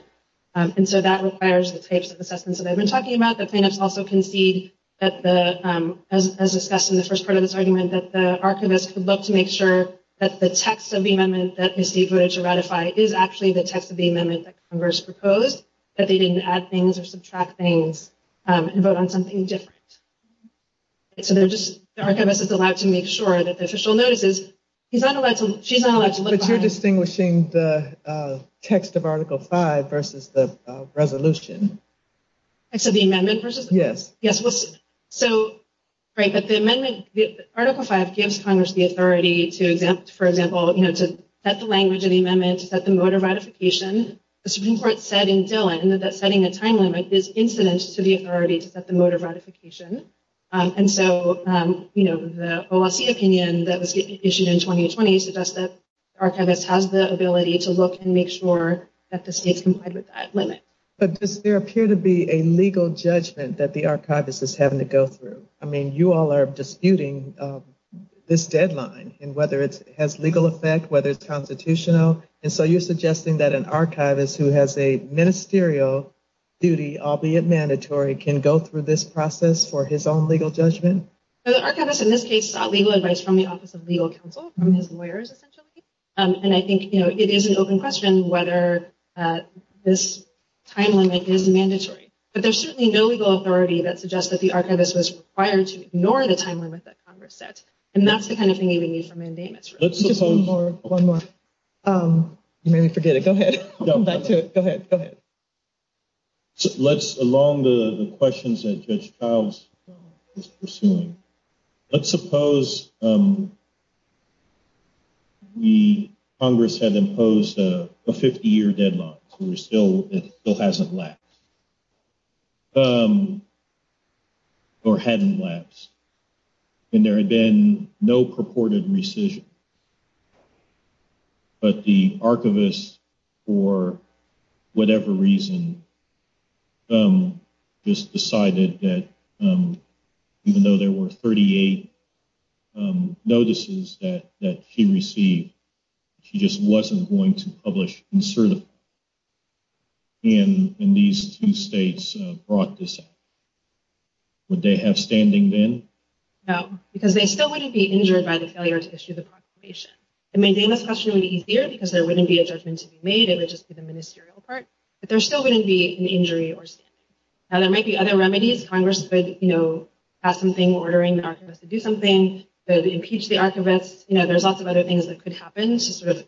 And so, that requires the state's assessment that I've been talking about. The plaintiffs also concede that the, as discussed in the first part of this argument, that the archivist would love to make sure that the text of the amendment that received voted to ratify is actually the text of the amendment that Congress proposed, that they didn't add things or subtract things and vote on something different. So, the archivist is allowed to make sure that the official notices, he's not allowed to, she's not allowed to look behind. You're distinguishing the text of article five versus the resolution. So, the amendment versus? Yes. Yes. So, right. But the amendment, the article five gives Congress the authority to exempt, for example, you know, to set the language of the amendment, set the mode of ratification. The Supreme Court said in Dillon that setting a timeline like this incidents to the authority to set the mode of ratification. And so, you know, the OAC opinion that was issued in 2020 suggests that archivists have the ability to look and make sure that the state complied with that limit. But does there appear to be a legal judgment that the archivist was having to go through? I mean, you all are disputing this deadline and whether it has legal effect, whether it's constitutional. And so you're suggesting that an archivist who has a ministerial duty, albeit mandatory, can go through this process for his own legal judgment? The archivist, in this case, sought legal advice from the Office of Legal Counsel, from his lawyers, essentially. And I think, you know, it is an open question whether this time limit is mandatory. But there's certainly no legal authority that suggests that the archivist was required to ignore the time limit that Congress set. And that's the kind of thing you would need for mandamus. One more. You made me forget it. Go ahead. Go ahead. Go ahead. Let's, along the questions that Judge Childs was pursuing, let's suppose the Congress had imposed a 50-year deadline. It still hasn't lapsed. Or hadn't lapsed. And there had been no purported rescission. But the archivist, for whatever reason, just decided that, even though there were 38 notices that she received, she just wasn't going to publish insertively. And these two states brought this up. Would they have standing then? No. Because they still wouldn't be injured by the failure to issue the proclamation. It made Dana's question a little easier, because there wouldn't be a judgment to be made, it would just be the ministerial part. But there still wouldn't be an injury. There might be other remedies. Congress could pass something ordering the archivist to do something, to impeach the archivist. There's lots of other things that could happen to sort of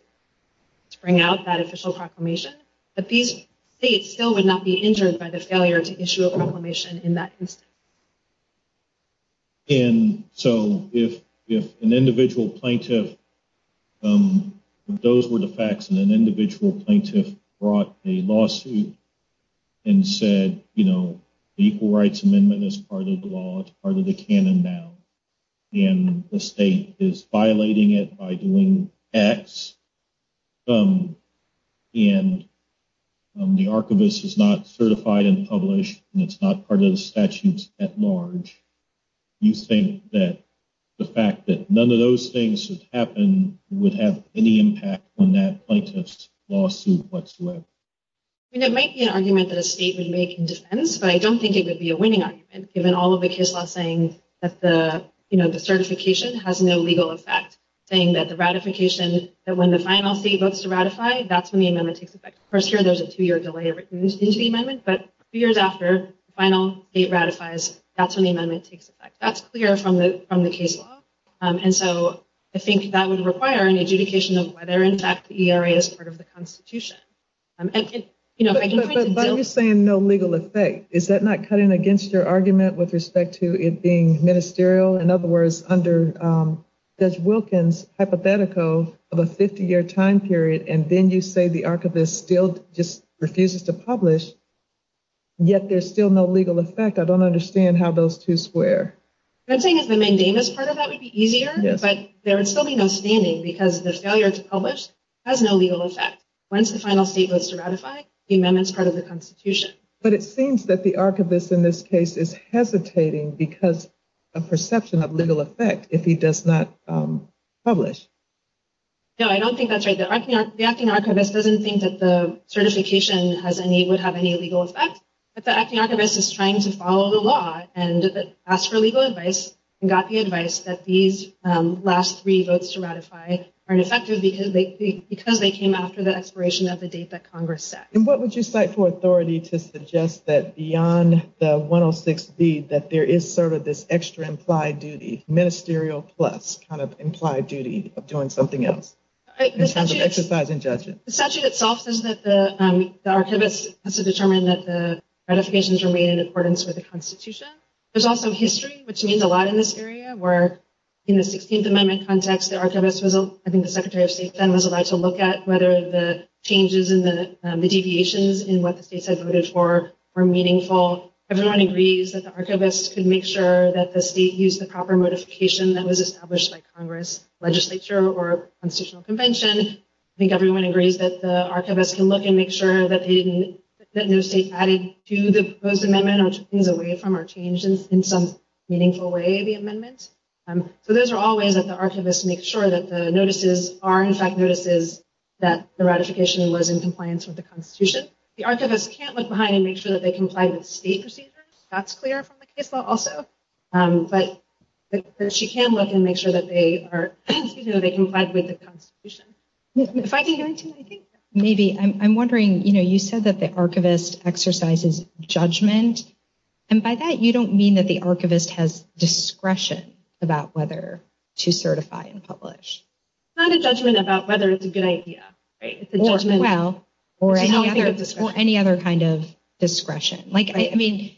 bring out that official proclamation. But these states still would not be injured by the failure to issue a proclamation in that instance. And so if an individual plaintiff, if those were the facts, and an individual plaintiff brought a lawsuit and said, you know, the Equal Rights Amendment is part of the law, it's part of the canon now, and the state is violating it by doing X, and the archivist is not certified and published, and it's not part of the statutes at large, do you think that the fact that none of those things have happened would have any impact on that plaintiff's lawsuit whatsoever? I mean, it might be an argument that a state would make in defense, but I don't think it would be a winning argument, given all of the case laws saying that the certification has no legal effect, saying that the ratification, that when the final state votes to ratify, that's when the amendment takes effect. First year, there's a two-year delay, but two years after the final state ratifies, that's when the amendment takes effect. That's clear from the case law. And so I think that would require an adjudication of whether, in fact, the ERA is part of the Constitution. Why are you saying no legal effect? Is that not cutting against your argument with respect to it being ministerial? In other words, under Des Wilkins' hypothetical of a 50-year time period, and then you say the archivist still just refuses to publish, yet there's still no legal effect. I don't understand how those two square. I'm saying that the mandamus part of that would be easier, but there would still be no standing, because the failure to publish has no legal effect. Once the final state votes to ratify, the amendment's part of the Constitution. But it seems that the archivist in this case is hesitating because of perception of legal effect if he does not publish. No, I don't think that's right. The acting archivist doesn't think that the certification would have any legal effect, but the acting archivist is trying to follow the law and ask for legal advice and got the advice that these last three votes to ratify aren't effective because they came after the expiration of the date that Congress set. And what would you cite for authority to suggest that beyond the 106 deed that there is sort of this extra implied duty, ministerial plus kind of implied duty of doing something else? The statute itself says that the archivist has to determine that the ratifications remain in accordance with the Constitution. There's also history, which means a lot in this area, where in the 16th Amendment context, I think the Secretary of State then was allowed to look at whether the changes in the deviations in what the states had voted for were meaningful. Everyone agrees that the archivist could make sure that the state used the proper modification that was established by Congress legislature or Constitutional Convention. I think everyone agrees that the archivist can look and make sure that no state added to the proposed amendment or took things away from or changed in some meaningful way the amendment. So those are all ways that the archivist makes sure that the notices are, in fact, notices that the ratification was in compliance with the Constitution. The archivist can't look behind and make sure that they comply with state procedures. That's clear from the case law also. But she can look and make sure that they comply with the Constitution. If I can add to that, I think maybe I'm wondering, you know, you said that the archivist exercises judgment. And by that, you don't mean that the archivist has discretion about whether to certify and publish. It's not a judgment about whether it's a good idea, right? Or any other kind of discretion. Like, I mean,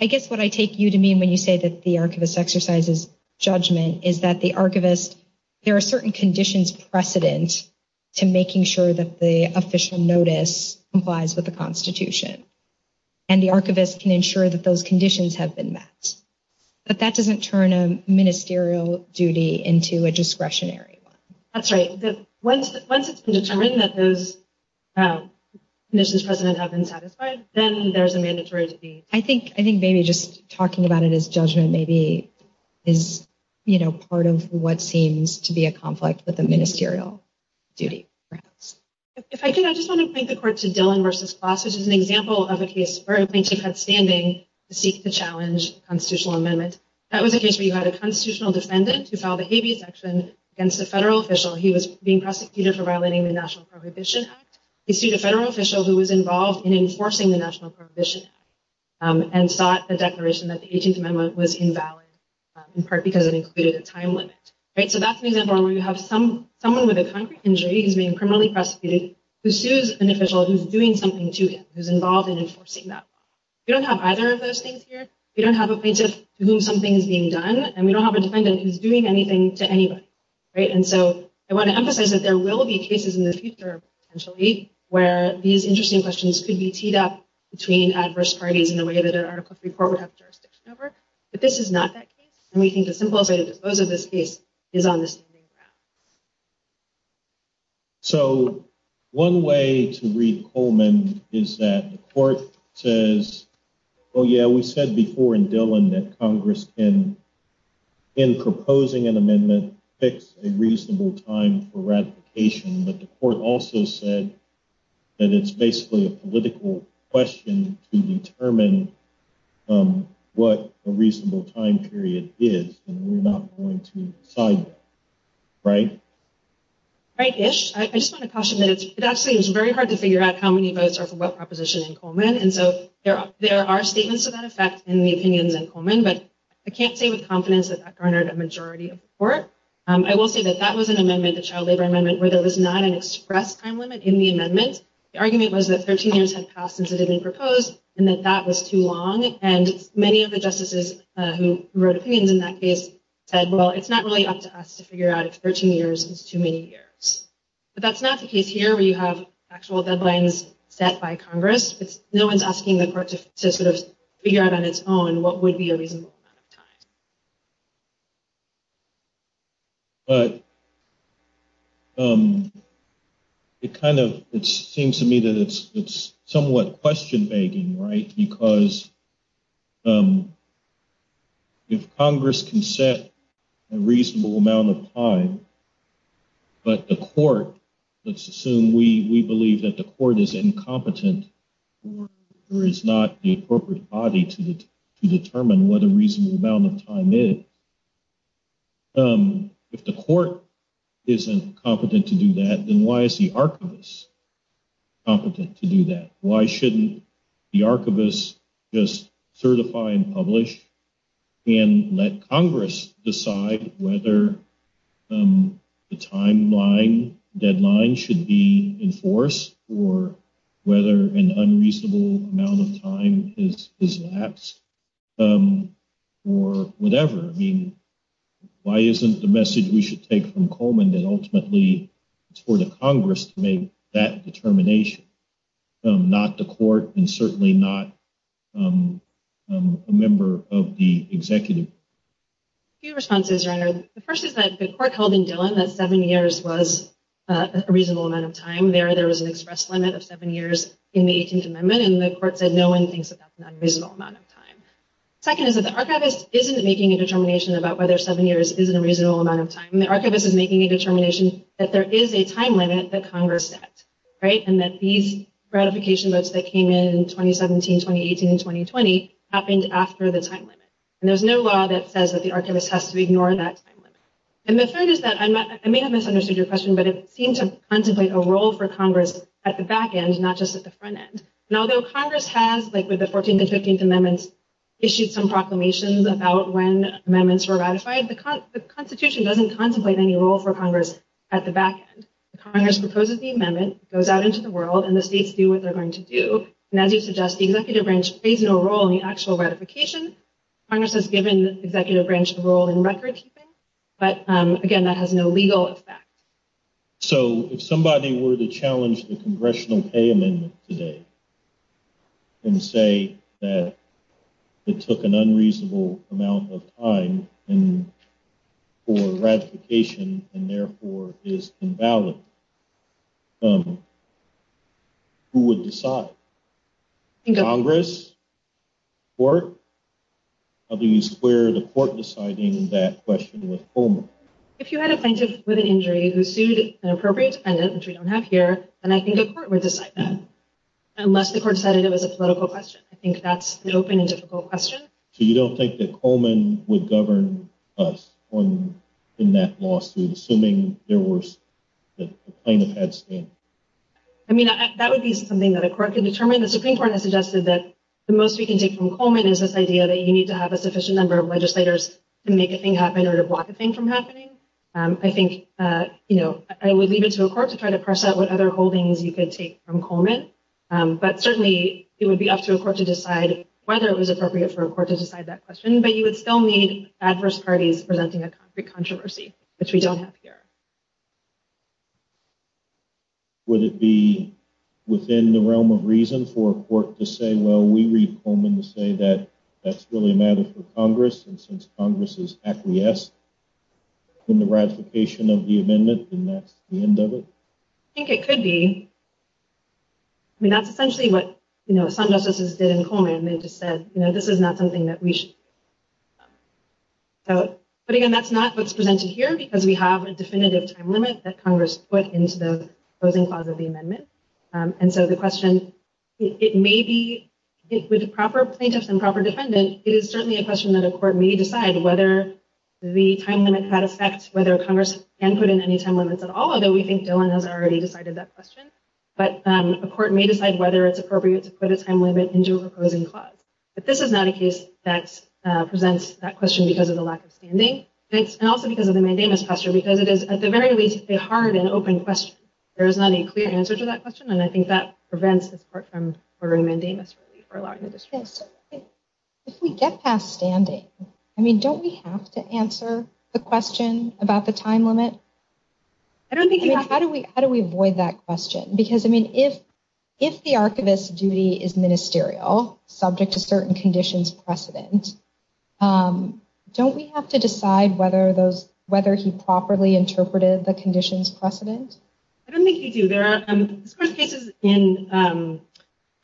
I guess what I take you to mean when you say that the archivist exercises judgment is that the archivist, there are certain conditions precedent to making sure that the official notice complies with the Constitution. And the archivist can ensure that those conditions have been met. But that doesn't turn a ministerial duty into a discretionary one. That's right. Once it's determined that those conditions present have been satisfied, then there's a mandatory to be. I think maybe just talking about it as judgment maybe is, you know, part of what seems to be a conflict with the ministerial duty. If I can, I just want to thank the court to Dillon v. Klaus, which is an example of a case where a plaintiff had standing to seek to challenge a constitutional amendment. That was a case where you had a constitutional defendant who filed a habeas action against a federal official. He was being prosecuted for violating the National Prohibition Act. He sued a federal official who was involved in enforcing the National Prohibition Act and sought the declaration that the 18th Amendment was invalid, in part because it included a time limit. So that's when you have someone with a concrete injury who's being criminally prosecuted who sues an official who's doing something to him, who's involved in enforcing that law. We don't have either of those things here. We don't have a plaintiff to whom something is being done. And we don't have a defendant who's doing anything to anyone. And so I want to emphasize that there will be cases in the future, potentially, where these interesting questions could be teed up between adverse parties in a way that an article 3 court would have jurisdiction over. But this is not that case. And we think the simplest way to dispose of this case is on the Supreme Court. So one way to read Coleman is that the court says, oh, yeah, we said before in Dillon that Congress can, in proposing an amendment, fix a reasonable time for ratification. But the court also said that it's basically a political question to determine what a reasonable time period is. And we're not going to decide that. Right? Right-ish. I just want to caution that it actually is very hard to figure out how many votes are for what proposition in Coleman. And so there are statements of that effect in the opinion in Coleman. But I can't say with confidence that that garnered a majority of support. I will say that that was an amendment, a child labor amendment, where there was not an express time limit in the amendment. The argument was that 13 years had passed since it had been proposed and that that was too long. And many of the justices who wrote opinions in that case said, well, it's not really up to us to figure out if 13 years is too many years. But that's not the case here where you have actual deadlines set by Congress. No one's asking the court to sort of figure out on its own what would be a reasonable time. It kind of seems to me that it's somewhat question-begging, right? Because if Congress can set a reasonable amount of time, but the court, let's assume we believe that the court is incompetent or is not the appropriate body to determine what a reasonable amount of time is, if the court isn't competent to do that, then why is the archivist competent to do that? Why shouldn't the archivist just certify and publish and let Congress decide whether the timeline deadline should be enforced or whether an unreasonable amount of time is lapsed or whatever? I mean, why isn't the message we should take from Coleman that ultimately it's for the Congress to make that determination, not the court and certainly not a member of the executive? A few responses, Ronald. The first is that the court held in Dillon that seven years was a reasonable amount of time. There was an express limit of seven years in the 18th Amendment and the court said no one thinks that that's an unreasonable amount of time. Second is that the archivist isn't making a determination about whether seven years is a reasonable amount of time. The archivist is making a determination that there is a time limit that Congress set, right? And that these ratification votes that came in 2017, 2018, and 2020 happened after the time limit. And there's no law that says that the archivist has to ignore that time limit. And the third is that, I may have misunderstood your question, but it seems to contemplate a role for Congress at the back end, not just at the front end. And although Congress has, like with the 14th and 15th Amendments, issued some proclamations about when amendments were ratified, the Constitution doesn't contemplate any role for Congress at the back end. Congress proposes the amendment, goes out into the world, and the states do what they're going to do. And as you suggest, the executive branch plays no role in the actual ratification. Congress has given the executive branch the role in record-keeping, but, again, that has no legal effect. So, if somebody were to challenge the Congressional Pay Amendment today and say that it took an unreasonable amount of time for ratification and, therefore, is invalid, who would decide? Congress? Court? How do you square the court deciding that question with Coleman? If you had a plaintiff with an injury who sued an appropriate defendant, which we don't have here, then I think the court would decide that, unless the court decided it was a political question. I think that's an open and difficult question. So you don't think that Coleman would govern us in that lawsuit, assuming there was a plaintiff at stake? I mean, that would be something that a court could determine. The Supreme Court has suggested that the most you can take from Coleman is this idea that you need to have a sufficient number of legislators to make a thing happen or to block a thing from happening. I think, you know, I would leave it to a court to try to press out what other holdings you could take from Coleman. But, certainly, it would be up to a court to decide whether it was appropriate for a court to decide that question. But you would still need adverse parties presenting a concrete controversy, which we don't have here. Would it be within the realm of reason for a court to say, well, we read Coleman to say that that's really a matter for Congress, and since Congress is acquiesced in the ratification of the amendment, then that's the end of it? I think it could be. I mean, that's essentially what, you know, Assange also did in Coleman. They just said, you know, this is not something that we should. But, again, that's not what's presented here, because we have a definitive time limit that Congress put into the closing clause of the amendment. And so the question, it may be, with a proper plaintiff and proper defendant, it is certainly a question that a court may decide whether the time limit had effect, whether Congress can put in any time limits at all, although we think Dillon has already decided that question. But a court may decide whether it's appropriate to put a time limit into a closing clause. But this is not a case that presents that question because of the lack of standing, and also because of the mandamus question, because it is, at the very least, a hard and open question. There is not a clear answer to that question, and I think that prevents the court from ordering mandamus relief or allowing the disclosure. If we get past standing, I mean, don't we have to answer the question about the time limit? I don't think you have to. How do we avoid that question? Because, I mean, if the archivist's duty is ministerial, subject to certain conditions precedent, don't we have to decide whether he properly interpreted the conditions precedent? I don't think you do. There are some court cases in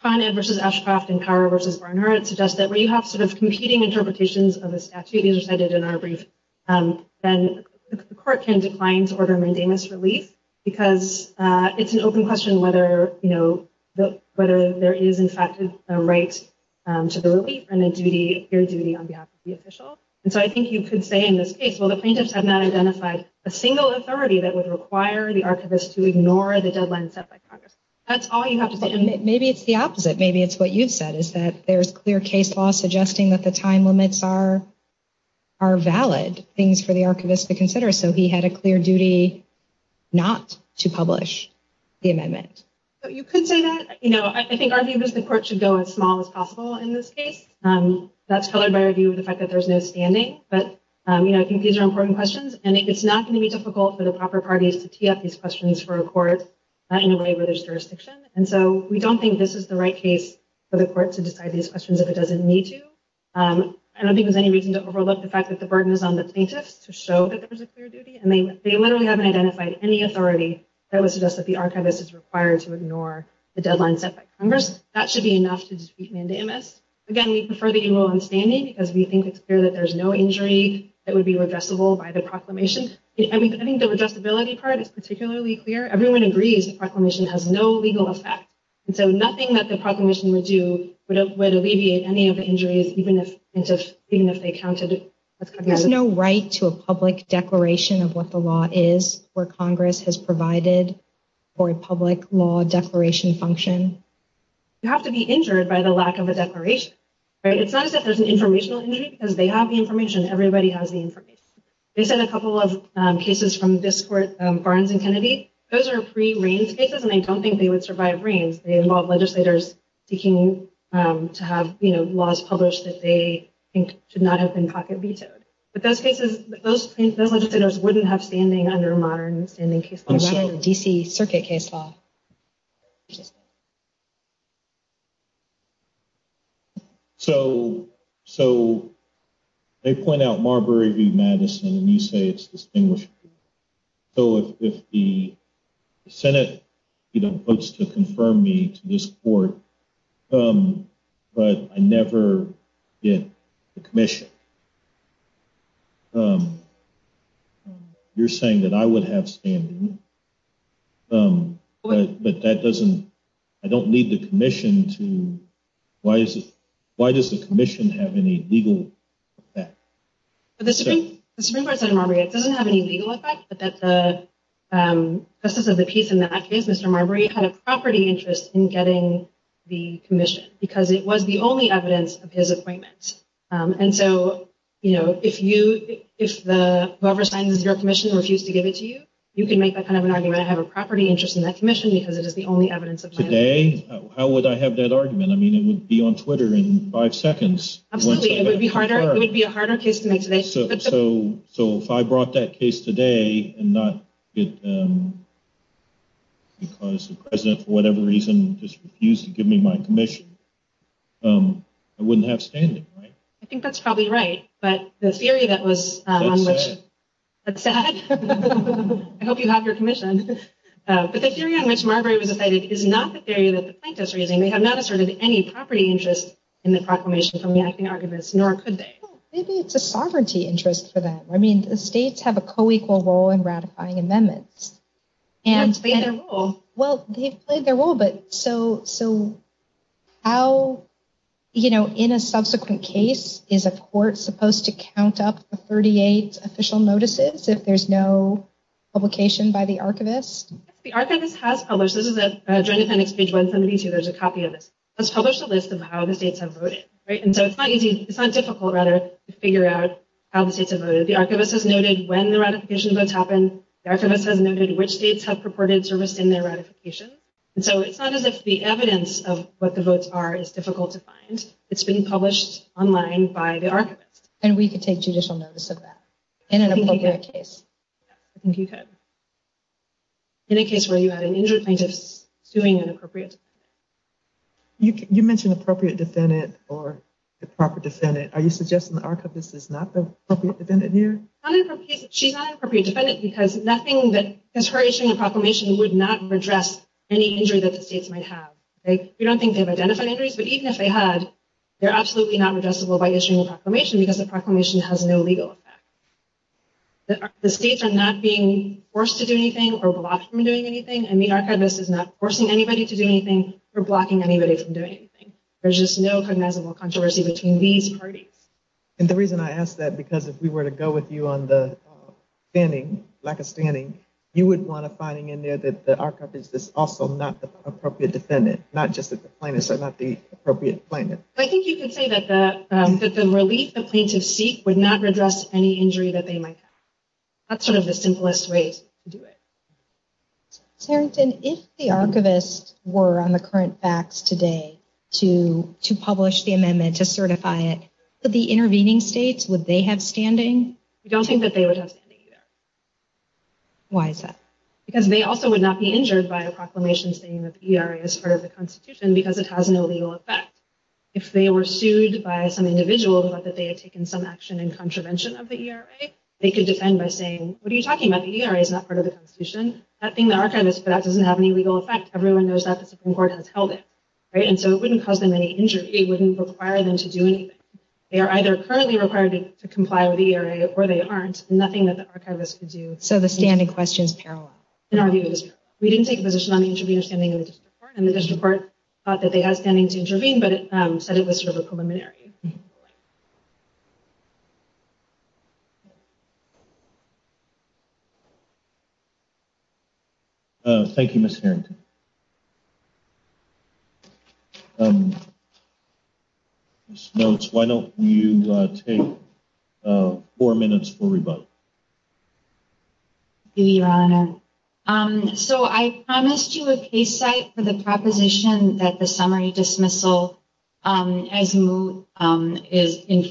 Con Ed v. Oshkoff and Power v. Barnhart that suggest that where you have sort of competing interpretations of a statute, as I did in our brief, then the court can decline to order mandamus relief because it's an open question whether there is, in fact, a right to the relief and a clear duty on behalf of the official. And so I think you could say in this case, well, the plaintiff has not identified a single authority that would require the archivist to ignore the deadline set by Congress. That's all you have to say. Maybe it's the opposite. Maybe it's what you said, is that there's clear case law suggesting that the time limits are valid, things for the archivist to consider. So he had a clear duty not to publish the amendment. You could say that. You know, I think our view is the court should go as small as possible in this case. That's colored by our view of the fact that there's no standing. But, you know, I think these are important questions, and it's not going to be difficult for the proper parties to tee up these questions for a court in a way where there's jurisdiction. And so we don't think this is the right case for the court to decide these questions if it doesn't need to. I don't think there's any reason to overlook the fact that the burden is on the plaintiff to show that there's a clear duty, and they literally haven't identified any authority that would suggest that the archivist is required to ignore the deadline set by Congress. That should be enough to discreetly amend the amendment. Again, we prefer the equal understanding because we think it's clear that there's no injury that would be addressable by the proclamation. I think the addressability part is particularly clear. Everyone agrees the proclamation has no legal effect. So nothing that the proclamation will do would alleviate any of the injuries, even if they counted it. There's no right to a public declaration of what the law is, where Congress has provided for a public law declaration function. You have to be injured by the lack of a declaration. It's not that there's an informational injury, because they have the information. Everybody has the information. They sent a couple of cases from this court, Barnes and Kennedy. Those are free reigns cases, and they don't think they would survive reigns. They involve legislators seeking to have laws published that they think should not have been pocket vetoed. But those cases, those legislators wouldn't have standing under a modern standing case law, a DC circuit case law. So they point out Marbury v. Madison, and you say it's distinguished. So if the Senate votes to confirm me to this court, but I never get the commission, you're saying that I would have standing. But that doesn't – I don't need the commission to – why does the commission have any legal effect? The Supreme Court said to Marbury it doesn't have any legal effect, but that the justice of the case in that case, Mr. Marbury, had a property interest in getting the commission, because it was the only evidence of his appointment. And so, you know, if whoever signs your commission refuses to give it to you, you can make that kind of an argument. I have a property interest in that commission because it is the only evidence of my appointment. Today? How would I have that argument? I mean, it would be on Twitter in five seconds. It would be a harder case to make today. So if I brought that case today and not because the president, for whatever reason, just refused to give me my commission, I wouldn't have standing, right? I think that's probably right, but the theory that was – That's sad. That's sad? I hope you have your commission. But the theory on which Marbury was decided is not the theory that the plaintiffs are using. They have not asserted any property interest in the proclamation from the acting archivist, nor could they. Maybe it's a sovereignty interest for them. I mean, the states have a co-equal role in ratifying amendments. They play their role. Well, they play their role, but so how, you know, in a subsequent case, is a court supposed to count up the 38 official notices if there's no publication by the archivist? The archivist has published this. This is the Joint Appendix Page 172. There's a copy of it. It's published a list of how the states have voted, right? And so it's not easy – it's not difficult, rather, to figure out how the states have voted. The archivist has noted when the ratification votes happened. The archivist has noted which states have purported to rescind their ratification. And so it's not as if the evidence of what the votes are is difficult to find. It's been published online by the archivist. And we could take judicial notice of that in a public case. I think you could. In a case where you have an injured scientist suing an appropriate defendant. You mentioned appropriate defendant or the proper defendant. Are you suggesting the archivist is not the appropriate defendant here? She's not an appropriate defendant because nothing that – since we're issuing a proclamation, we would not redress any injury that the states might have. You don't think they have identified injuries, but even if they have, they're absolutely not redressable by issuing a proclamation because a proclamation has no legal effect. The states are not being forced to do anything or blocked from doing anything. And the archivist is not forcing anybody to do anything or blocking anybody from doing anything. There's just no cognizable controversy between these parties. And the reason I ask that because if we were to go with you on the scanning, like a scanning, you would want to find in there that the archivist is also not the appropriate defendant, not just the plaintiff, so not the appropriate plaintiff. I think you could say that the release of plaintiff's seat would not redress any injury that they might have. That's sort of the simplest way to do it. Clarence, if the archivist were on the current fax today to publish the amendment, to certify it, would the intervening states, would they have standing? I don't think that they would have standing either. Why is that? Because they also would not be injured by the proclamation saying that the ERA is part of the Constitution because it has an illegal effect. If they were sued by some individual about that they had taken some action in contravention of the ERA, they could defend by saying, what are you talking about? The ERA is not part of the Constitution. That thing the archivist put out doesn't have any legal effect. Everyone knows that the Supreme Court has held it. And so it wouldn't cause them any injury. It wouldn't require them to do anything. They are either currently required to comply with the ERA or they aren't. Nothing that the archivist could do. So the standing question is parallel. In our view, we didn't take a position on the intervener standing in the district court. And the district court thought that they had standing to intervene, but it said it was sort of a preliminary. Thank you, Ms. Harrington. Ms. Nelson, why don't you take four minutes for rebuttal. Thank you, Your Honor. So I promised you a case site for the proposition that the summary dismissal in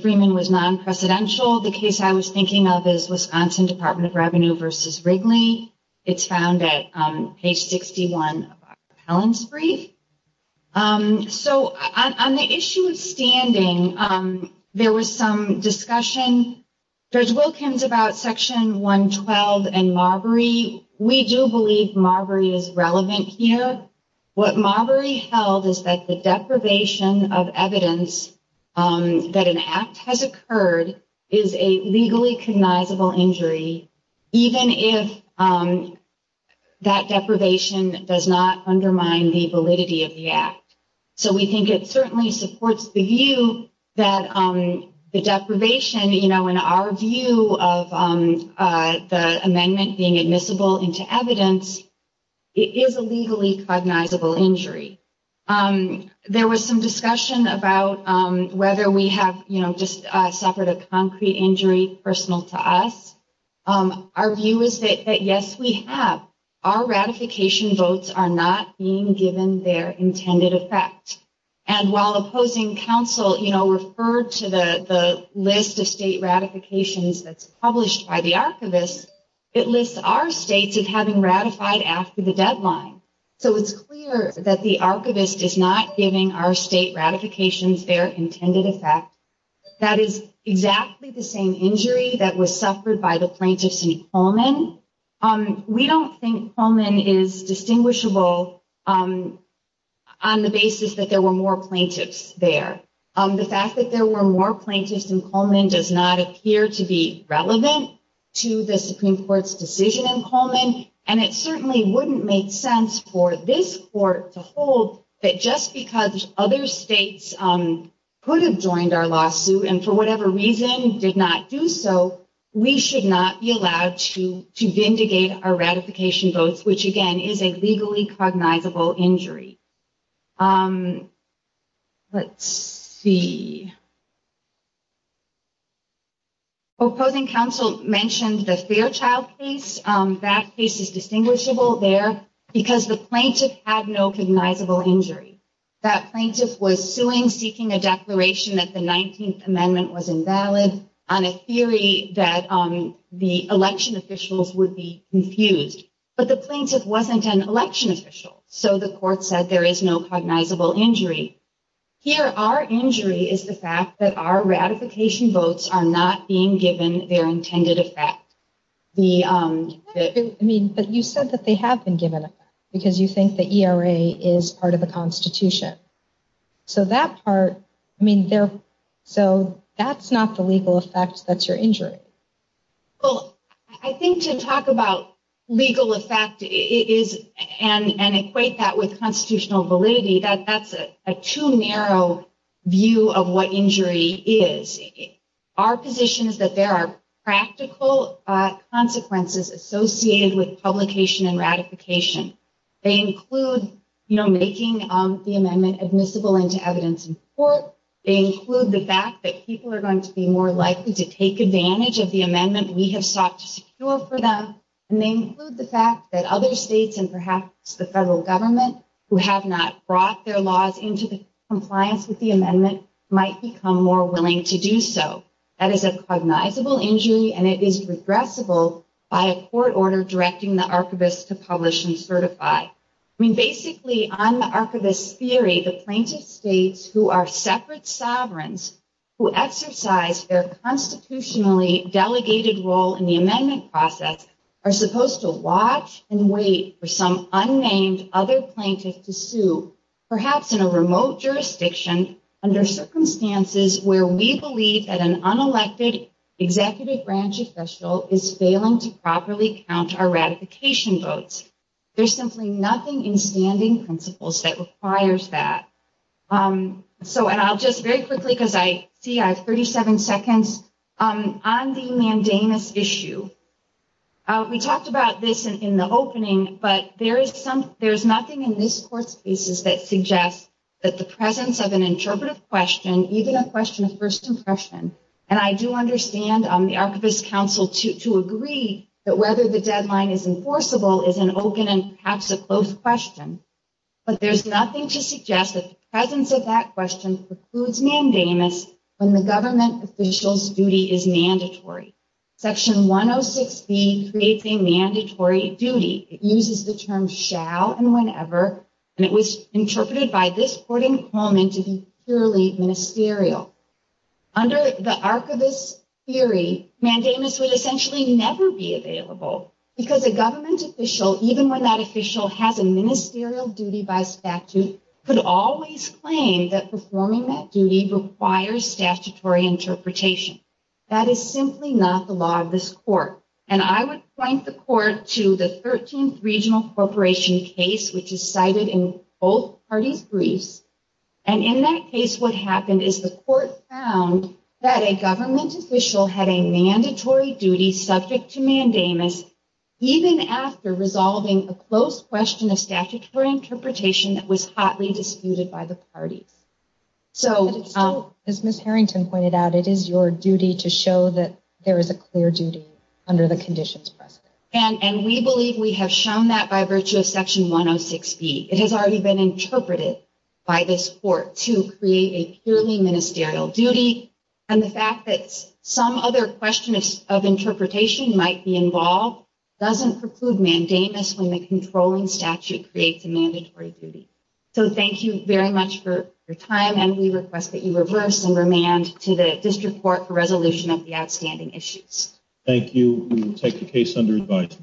Freeman was non-presidential. The case I was thinking of is Wisconsin Department of Revenue versus Wrigley. It's found at page 61 of Helen's brief. So on the issue of standing, there was some discussion. There's willkins about Section 112 and Marbury. We do believe Marbury is relevant here. What Marbury held is that the deprivation of evidence that an act has occurred is a legally cognizable injury, even if that deprivation does not undermine the validity of the act. So we think it certainly supports the view that the deprivation in our view of the amendment being admissible into evidence is a legally cognizable injury. There was some discussion about whether we have just suffered a concrete injury personal to us. Our view is that yes, we have. Our ratification votes are not being given their intended effect. And while opposing counsel referred to the list of state ratifications that's published by the archivist, it lists our state as having ratified after the deadline. So it's clear that the archivist is not giving our state ratifications their intended effect. That is exactly the same injury that was suffered by the plaintiffs in Pullman. We don't think Pullman is distinguishable on the basis that there were more plaintiffs there. The fact that there were more plaintiffs in Pullman does not appear to be relevant to the Supreme Court's decision in Pullman. And it certainly wouldn't make sense for this court to hold that just because other states could have joined our lawsuit and for whatever reason did not do so, we should not be allowed to vindicate our ratification votes, which again is a legally cognizable injury. Let's see. Opposing counsel mentioned the Fairchild case. That case is distinguishable there because the plaintiff had no cognizable injury. That plaintiff was suing, seeking a declaration that the 19th Amendment was invalid on a theory that the election officials would be confused. But the plaintiff wasn't an election official. So the court said there is no cognizable injury. Here, our injury is the fact that our ratification votes are not being given their intended effect. But you said that they have been given an effect because you think that ERA is part of the Constitution. So that's not the legal effect, that's your injury. Well, I think to talk about legal effect and equate that with constitutional validity, that's a too narrow view of what injury is. Our position is that there are practical consequences associated with publication and ratification. They include making the amendment admissible into evidence in court. They include the fact that people are going to be more likely to take advantage of the amendment we have sought to secure for them. And they include the fact that other states and perhaps the federal government who have not brought their laws into compliance with the amendment might become more willing to do so. That is a cognizable injury and it is regressible by a court order directing the archivist to publish and certify. Basically, on the archivist's theory, the plaintiff states who are separate sovereigns who exercise their constitutionally delegated role in the amendment process are supposed to watch and wait for some unnamed other plaintiff to sue, perhaps in a remote jurisdiction, under circumstances where we believe that an unelected executive branch official is failing to properly count our ratification votes. There's simply nothing in standing principles that requires that. So, and I'll just very quickly, because I see I have 37 seconds, on the mandamus issue. We talked about this in the opening, but there's nothing in this court's cases that suggests that the presence of an interpretive question, even a question of first impression, and I do understand the archivist's counsel to agree that whether the deadline is enforceable is an open and perhaps a closed question. But there's nothing to suggest that the presence of that question precludes mandamus when the government official's duty is mandatory. Section 106B creates a mandatory duty. It uses the terms shall and whenever, and it was interpreted by this court in Coleman to be purely ministerial. Under the archivist's theory, mandamus would essentially never be available, because a government official, even when that official has a ministerial duty by statute, could always claim that performing that duty requires statutory interpretation. That is simply not the law of this court, and I would point the court to the 13th Regional Corporation case, which is cited in both parties' briefs. And in that case, what happened is the court found that a government official had a mandatory duty subject to mandamus, even after resolving a closed question of statutory interpretation that was hotly disputed by the party. So, as Ms. Harrington pointed out, it is your duty to show that there is a clear duty under the conditions. And we believe we have shown that by virtue of Section 106B. It has already been interpreted by this court to create a purely ministerial duty, and the fact that some other question of interpretation might be involved doesn't preclude mandamus when the controlling statute creates a mandatory duty. So, thank you very much for your time, and we request that you reverse and remand to the district court for resolution of the outstanding issues. Thank you. We will take the case under advisory.